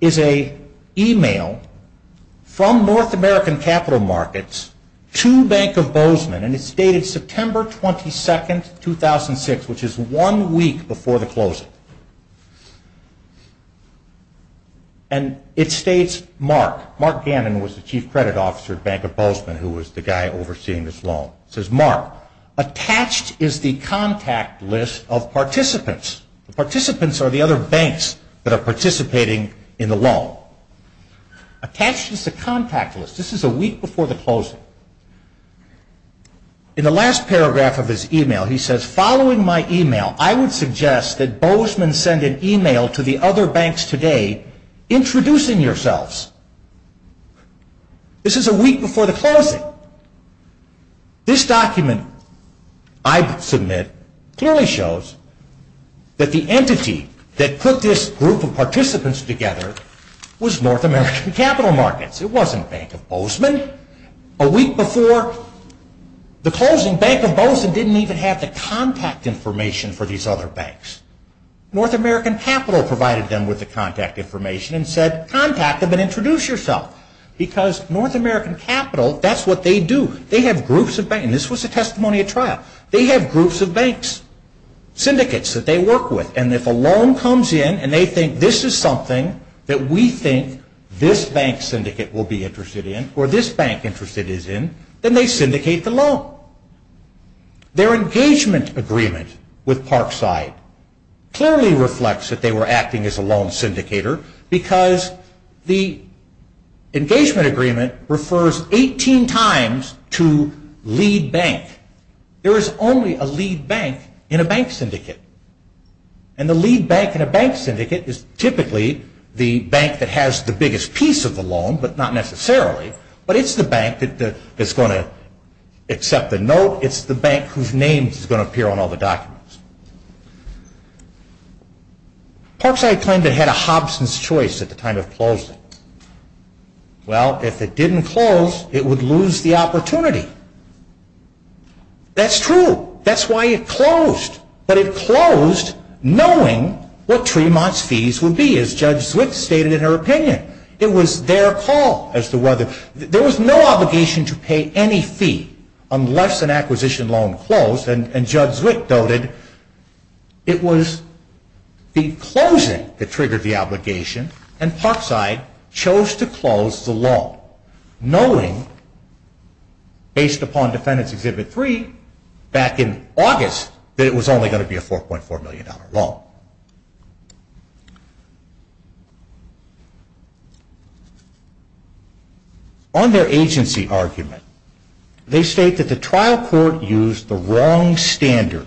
is an email from North American Capital Markets to Bank of Bozeman and it's dated September 22, 2006, which is one week before the closing. And it states Mark. Mark Gannon was the chief credit officer at Bank of Bozeman who was the guy overseeing this loan. It says, Mark, attached is the contact list of participants. The participants are the other banks that are participating in the loan. Attached is the contact list. This is a week before the closing. In the last paragraph of his email, he says, following my email, I would suggest that Bozeman send an email to the other banks today introducing yourselves. This is a week before the closing. This document I submit clearly shows that the entity that put this group of participants together was North American Capital Markets. It wasn't Bank of Bozeman. A week before the closing, Bank of Bozeman didn't even have the contact information for these other banks. North American Capital provided them with the contact information and said, contact them and introduce yourself, because North American Capital, that's what they do. They have groups of banks, and this was a testimony at trial. They have groups of banks, syndicates that they work with, and if a loan comes in and they think this is something that we think this bank syndicate will be interested in, or this bank interest it is in, then they syndicate the loan. Their engagement agreement with Parkside clearly reflects that they were acting as a loan syndicator, because the engagement agreement refers 18 times to lead bank. There is only a lead bank in a bank syndicate. And the lead bank in a bank syndicate is typically the bank that has the biggest piece of the loan, but not necessarily, but it's the bank that's going to accept the note. It's the bank whose name is going to appear on all the documents. Parkside claimed it had a Hobson's Choice at the time of closing. Well, if it didn't close, it would lose the opportunity. That's true. That's why it closed. But it closed knowing what Tremont's fees would be, as Judge Zwick stated in her opinion. It was their call. There was no obligation to pay any fee unless an acquisition loan closed, and Judge Zwick noted it was the closing that triggered the obligation, and Parkside chose to close the loan, knowing, based upon Defendants Exhibit 3 back in August, that it was only going to be a $4.4 million loan. On their agency argument, they state that the trial court used the wrong standard.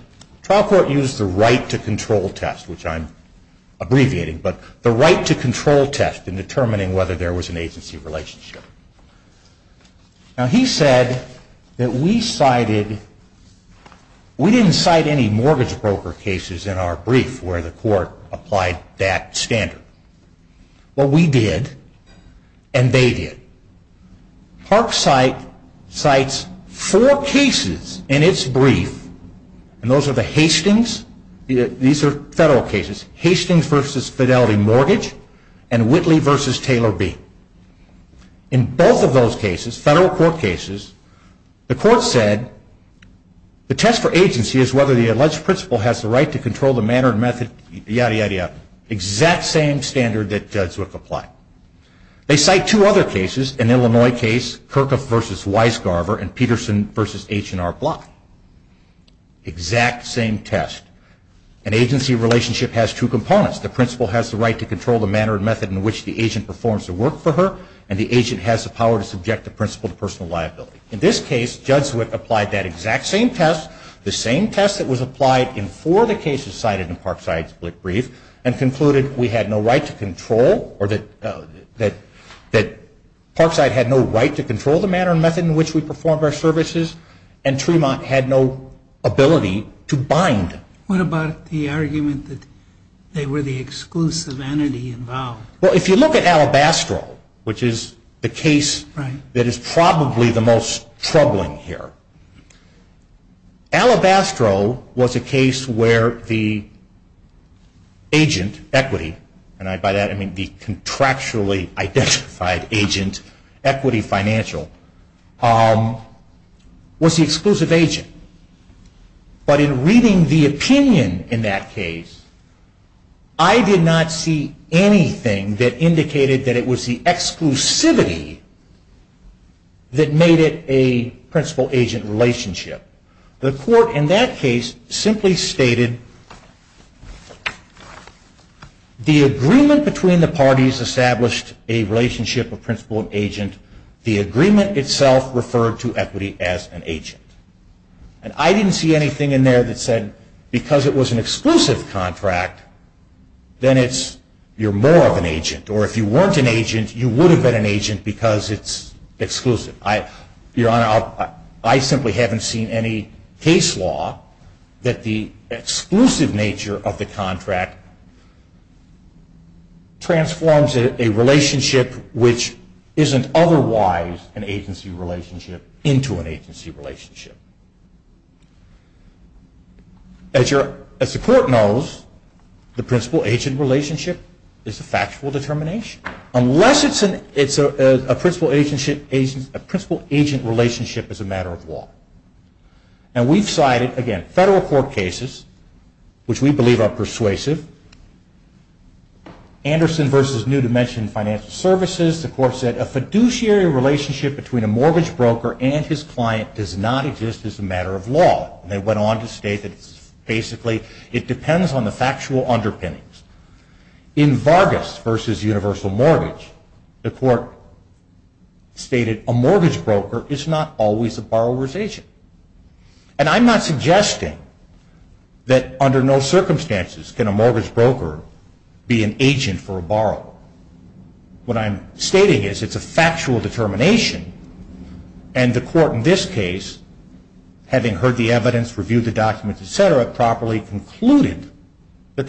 Now, he said that we cited, we didn't cite any mortgage broker cases in our brief where the court applied that standard. But we did, and they did. Parkside cites four cases in its brief, and those are the Hastings, these are federal cases, Hastings v. Fidelity Mortgage, and Whitley v. Taylor B. In both of those cases, federal court cases, the court said the test for agency is whether the alleged principal has the right to control the manner and method, yada, yada, yada, exact same standard that Judge Zwick applied. They cite two other cases, an Illinois case, Kirkup v. Weisgarber and Peterson v. H&R Block. Exact same test. An agency relationship has two components. The principal has the right to control the manner and method in which the agent performs the work for her, and the agent has the power to subject the principal to personal liability. In this case, Judge Zwick applied that exact same test, the same test that was applied in four of the cases cited in Parkside's brief, and concluded we had no right to control, or that Parkside had no right to control the manner and method in which we performed our services, and Tremont had no ability to bind. What about the argument that they were the exclusive entity involved? Well, if you look at Alabastro, which is the case that is probably the most troubling here, Alabastro was a case where the agent, equity, and by that I mean the contractually identified agent, equity financial, was the exclusive agent. But in reading the opinion in that case, I did not see anything that indicated that it was the exclusivity that made it a principal-agent relationship. The court in that case simply stated the agreement between the parties established a relationship of principal and agent. The agreement itself referred to equity as an agent. And I didn't see anything in there that said because it was an exclusive contract, then you're more of an agent. Or if you weren't an agent, you would have been an agent because it's exclusive. Your Honor, I simply haven't seen any case law that the exclusive nature of the contract transforms a relationship which isn't otherwise an agency relationship into an agency relationship. As the court knows, the principal-agent relationship is a factual determination. Unless it's a principal-agent relationship as a matter of law. And we've cited, again, federal court cases, which we believe are persuasive. Anderson v. New Dimension Financial Services, the court said a fiduciary relationship between a mortgage broker and his client does not exist as a matter of law. They went on to state that basically it depends on the factual underpinnings. In Vargas v. Universal Mortgage, the court stated a mortgage broker is not always a borrower's agent. And I'm not suggesting that under no circumstances can a mortgage broker be an agent for a borrower. What I'm stating is it's a factual determination. And the court in this case, having heard the evidence, reviewed the documents, etc., properly concluded that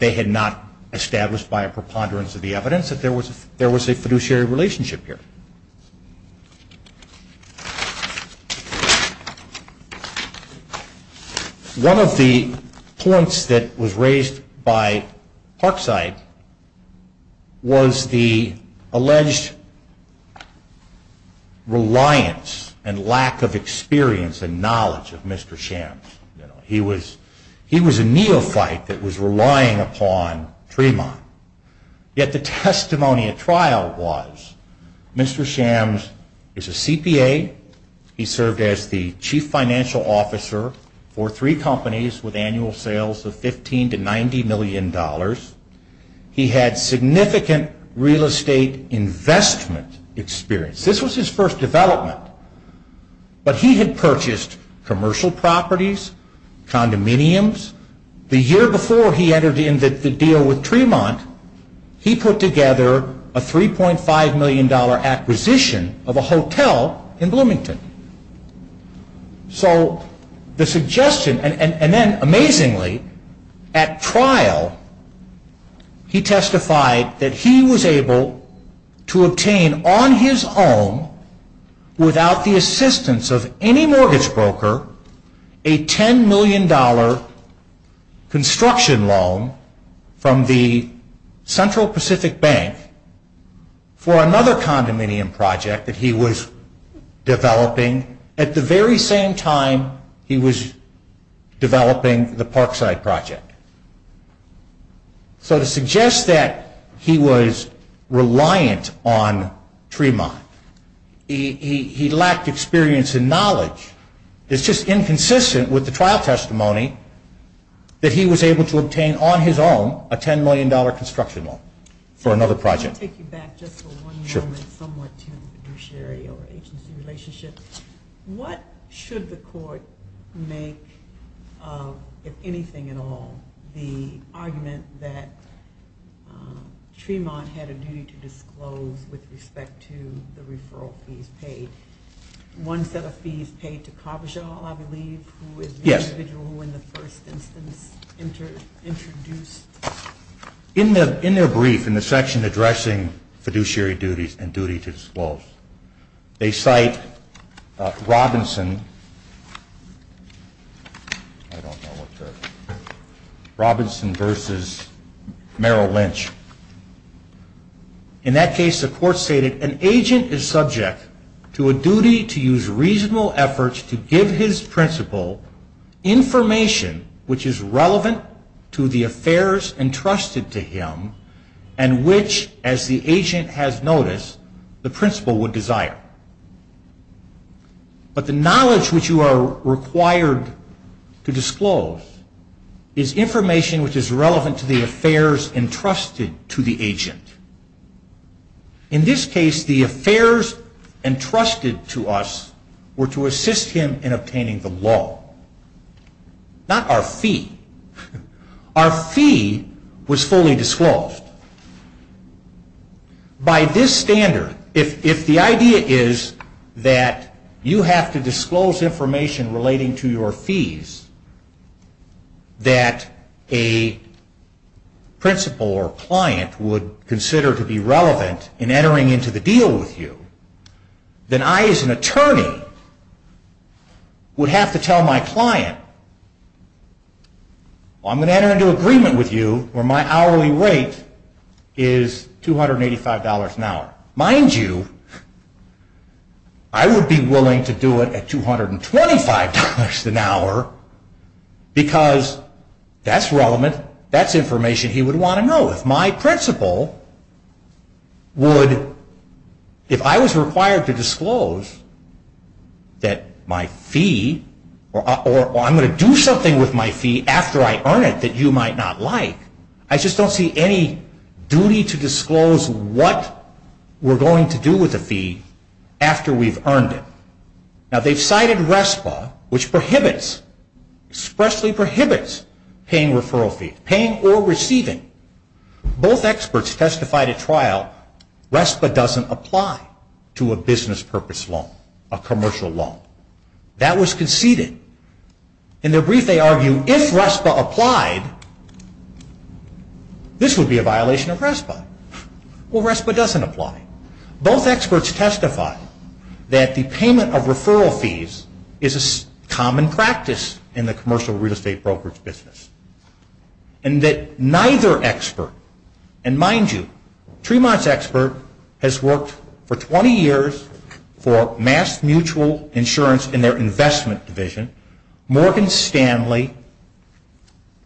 they had not established by a preponderance of the evidence that there was a fiduciary relationship here. One of the points that was raised by Parkside was the alleged reliance and lack of experience and knowledge of Mr. Shams. He was a neophyte that was relying upon Tremont. Yet the testimony at trial was Mr. Shams is a CPA. He served as the chief financial officer for three companies with annual sales of $15 to $90 million. He had significant real estate investment experience. This was his first development. But he had purchased commercial properties, condominiums. The year before he entered into the deal with Tremont, he put together a $3.5 million acquisition of a hotel in Bloomington. So the suggestion, and then amazingly, at trial, he testified that he was able to obtain on his own, without the assistance of any mortgage broker, a $10 million construction loan from the Central Pacific Bank for another condominium project that he was developing at the very same time he was developing the Parkside project. So to suggest that he was reliant on Tremont, he lacked experience and knowledge, it's just inconsistent with the trial testimony that he was able to obtain on his own a $10 million construction loan for another project. I want to take you back just for one moment somewhat to Sherry or Akin's relationship. What should the court make, if anything at all, the argument that Tremont had a duty to disclose with respect to the referral fees paid? One set of fees paid to Carbajal, I believe, who was the individual when the first incident was introduced. In their brief, in the section addressing fiduciary duties and duty to disclose, they cite Robinson versus Merrill Lynch. In that case, the court stated, an agent is subject to a duty to use reasonable efforts to give his principal information which is relevant to the affairs entrusted to him and which, as the agent has noticed, the principal would desire. But the knowledge which you are required to disclose is information which is relevant to the affairs entrusted to the agent. In this case, the affairs entrusted to us were to assist him in obtaining the loan, not our fee. Our fee was fully disclosed. By this standard, if the idea is that you have to disclose information relating to your fees that a principal or client would consider to be relevant in entering into the deal with you, then I, as an attorney, would have to tell my client, I'm going to enter into agreement with you where my hourly rate is $285 an hour. Mind you, I would be willing to do it at $225 an hour because that's relevant, that's information he would want to know. Now, if my principal would, if I was required to disclose that my fee, or I'm going to do something with my fee after I earn it that you might not like, I just don't see any duty to disclose what we're going to do with the fee after we've earned it. Now, they've cited RESPA, which prohibits, expressly prohibits paying referral fees, paying or receiving. Both experts testified at trial, RESPA doesn't apply to a business purpose loan, a commercial loan. That was conceded. In their brief, they argue, if RESPA applied, this would be a violation of RESPA. Well, RESPA doesn't apply. Both experts testified that the payment of referral fees is a common practice in the commercial real estate broker's business. And that neither expert, and mind you, Tremont's expert has worked for 20 years for MassMutual Insurance in their investment division. Morgan Stanley,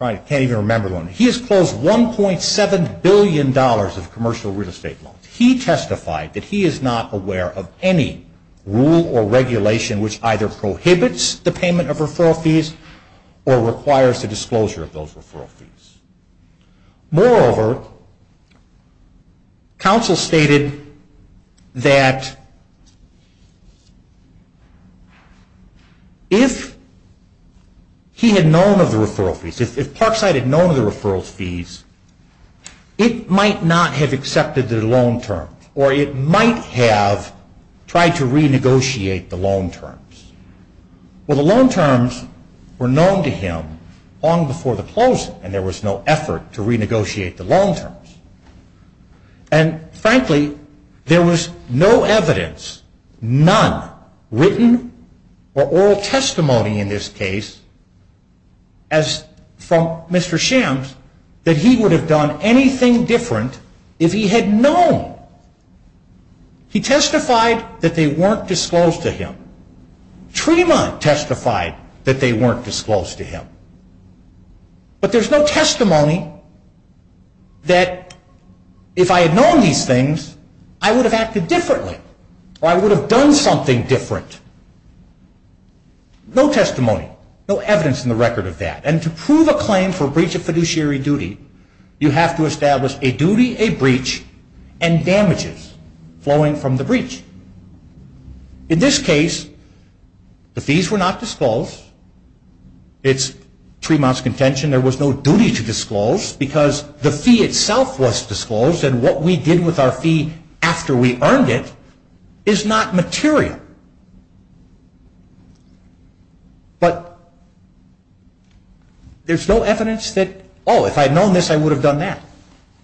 I can't even remember the name, he has closed $1.7 billion of commercial real estate loans. He testified that he is not aware of any rule or regulation which either prohibits the payment of referral fees or requires the disclosure of those referral fees. Moreover, counsel stated that if he had known of the referral fees, if Parkside had known of the referral fees, it might not have accepted the loan term, or it might have tried to renegotiate the loan terms. Well, the loan terms were known to him long before the closing, and there was no effort to renegotiate the loan terms. And frankly, there was no evidence, none, written or oral testimony in this case, as from Mr. Shims, that he would have done anything different if he had known. He testified that they weren't disclosed to him. Tremont testified that they weren't disclosed to him. But there's no testimony that if I had known these things, I would have acted differently, or I would have done something different. No testimony, no evidence in the record of that. And to prove a claim for breach of fiduciary duty, you have to establish a duty, a breach, and damages flowing from the breach. In this case, the fees were not disclosed. It's Tremont's contention there was no duty to disclose, because the fee itself was disclosed, and what we did with our fee after we earned it is not material. But there's no evidence that, oh, if I had known this, I would have done that,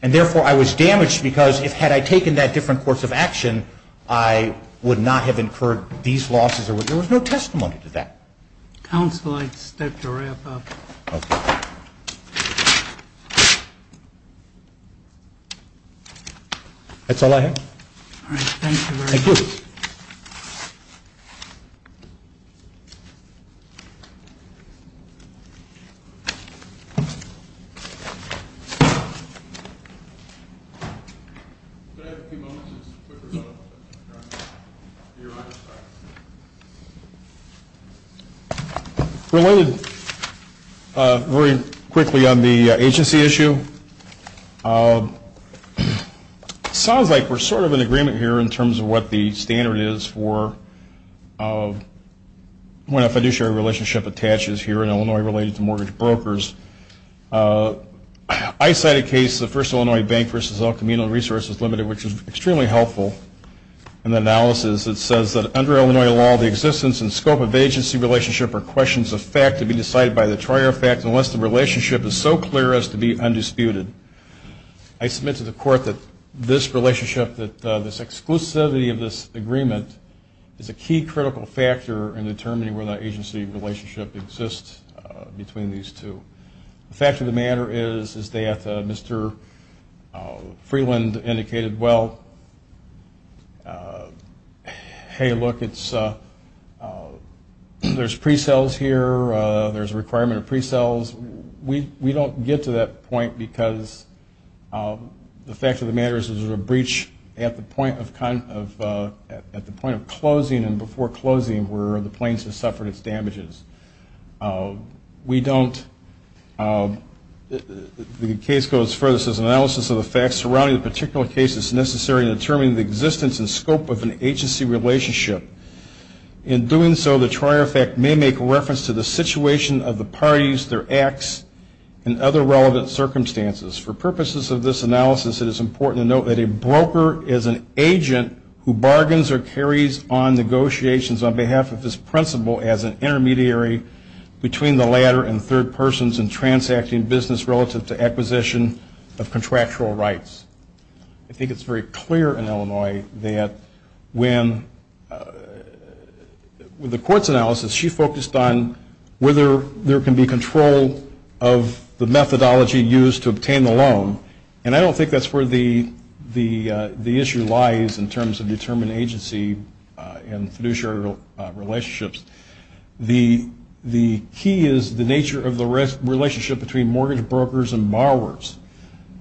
and therefore I was damaged, because had I taken that different course of action, I would not have incurred these losses. There was no testimony to that. Counsel, I expect to wrap up. Okay. That's all I have. All right, thank you very much. Thank you. Thank you. Related very quickly on the agency issue. It sounds like we're sort of in agreement here in terms of what the standard is for when a fiduciary relationship attaches here in Illinois related to mortgage brokers. I cite a case, the First Illinois Bank v. El Camino Resources Limited, which is extremely helpful in the analysis. It says that under Illinois law, the existence and scope of agency relationship are questions of fact to be decided by the trier of fact, unless the relationship is so clear as to be undisputed. I submit to the court that this relationship, that this exclusivity of this agreement, is a key critical factor in determining whether the agency relationship exists between these two. The fact of the matter is that Mr. Freeland indicated, well, hey, look, there's pre-sales here. There's a requirement of pre-sales. We don't get to that point because the fact of the matter is there's a breach at the point of closing and before closing where the plaintiff suffered its damages. We don't, the case goes further. It says analysis of the facts surrounding a particular case is necessary in determining the existence and scope of an agency relationship. In doing so, the trier of fact may make reference to the situation of the parties, their acts, and other relevant circumstances. For purposes of this analysis, it is important to note that a broker is an agent who bargains or carries on negotiations on behalf of his principal as an intermediary between the latter and third persons in transacting business relative to acquisition of contractual rights. I think it's very clear in Illinois that when the court's analysis, she focused on whether there can be control of the methodology used to obtain a loan. And I don't think that's where the issue lies in terms of determining agency and fiduciary relationships. The key is the nature of the relationship between mortgage brokers and borrowers.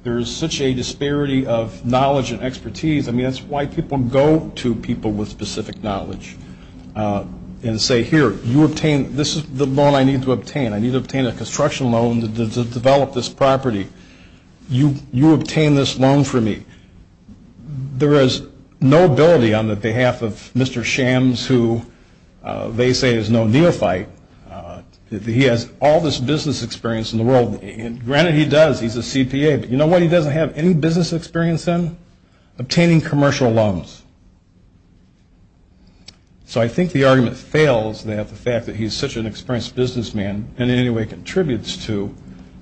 There's such a disparity of knowledge and expertise. I mean, it's why people go to people with specific knowledge and say, here, this is the loan I need to obtain. I need to obtain a construction loan to develop this property. You obtain this loan for me. There is no ability on the behalf of Mr. Shams who they say is no neophyte. He has all this business experience in the world. And granted he does. He's a CPA. But you know what he doesn't have any business experience in? Obtaining commercial loans. So I think the argument fails that the fact that he's such an experienced businessman in any way contributes to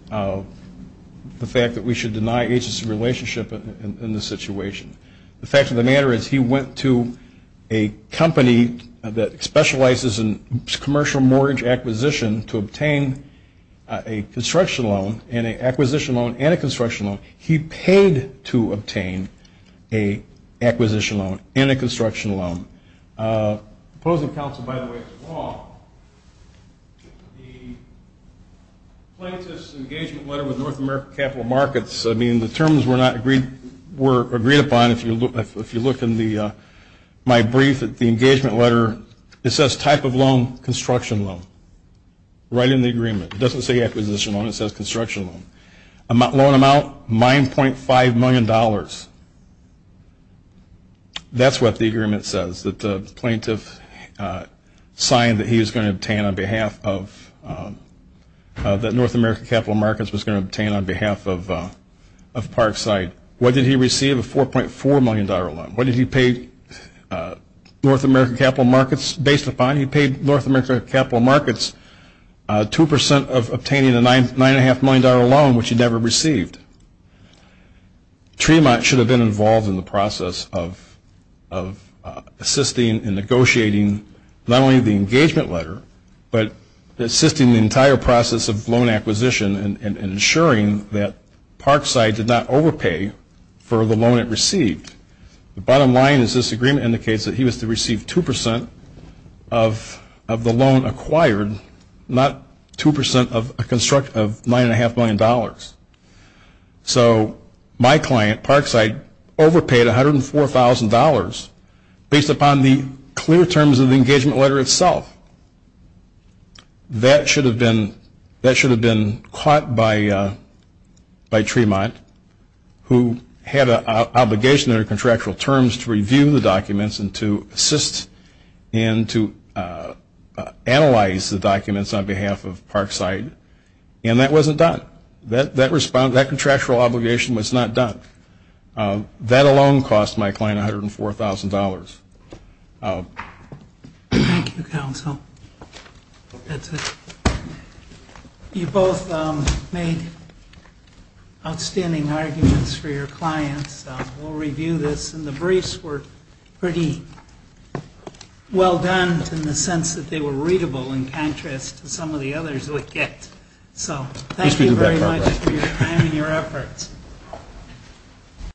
the fact that we should deny agency relationship in this situation. The fact of the matter is he went to a company that specializes in commercial mortgage acquisition to obtain a construction loan and an acquisition loan and a construction loan. He paid to obtain an acquisition loan and a construction loan. Opposing counsel, by the way, is wrong. The plaintiff's engagement letter with North American Capital Markets, I mean, the terms were agreed upon if you look in my brief at the engagement letter. It says type of loan, construction loan, right in the agreement. It doesn't say acquisition loan. It says construction loan. Loan amount, $9.5 million. That's what the agreement says, that the plaintiff signed that he was going to obtain on behalf of, that North American Capital Markets was going to obtain on behalf of Parkside. What did he receive? A $4.4 million loan. What did he pay North American Capital Markets based upon? He paid North American Capital Markets 2% of obtaining a $9.5 million loan, which he never received. Tremont should have been involved in the process of assisting and negotiating not only the engagement letter, but assisting the entire process of loan acquisition and ensuring that Parkside did not overpay for the loan it received. The bottom line is this agreement indicates that he was to receive 2% of the loan acquired, not 2% of a construction of $9.5 million. So my client, Parkside, overpaid $104,000 based upon the clear terms of the engagement letter itself. That should have been caught by Tremont, who had an obligation under contractual terms to review the documents and to assist and to analyze the documents on behalf of Parkside, and that wasn't done. That contractual obligation was not done. That alone cost my client $104,000. Thank you, counsel. You both made outstanding arguments for your clients. We'll review this. And the briefs were pretty well done in the sense that they were readable in contrast to some of the others we'll get. So thank you very much for your time and your efforts.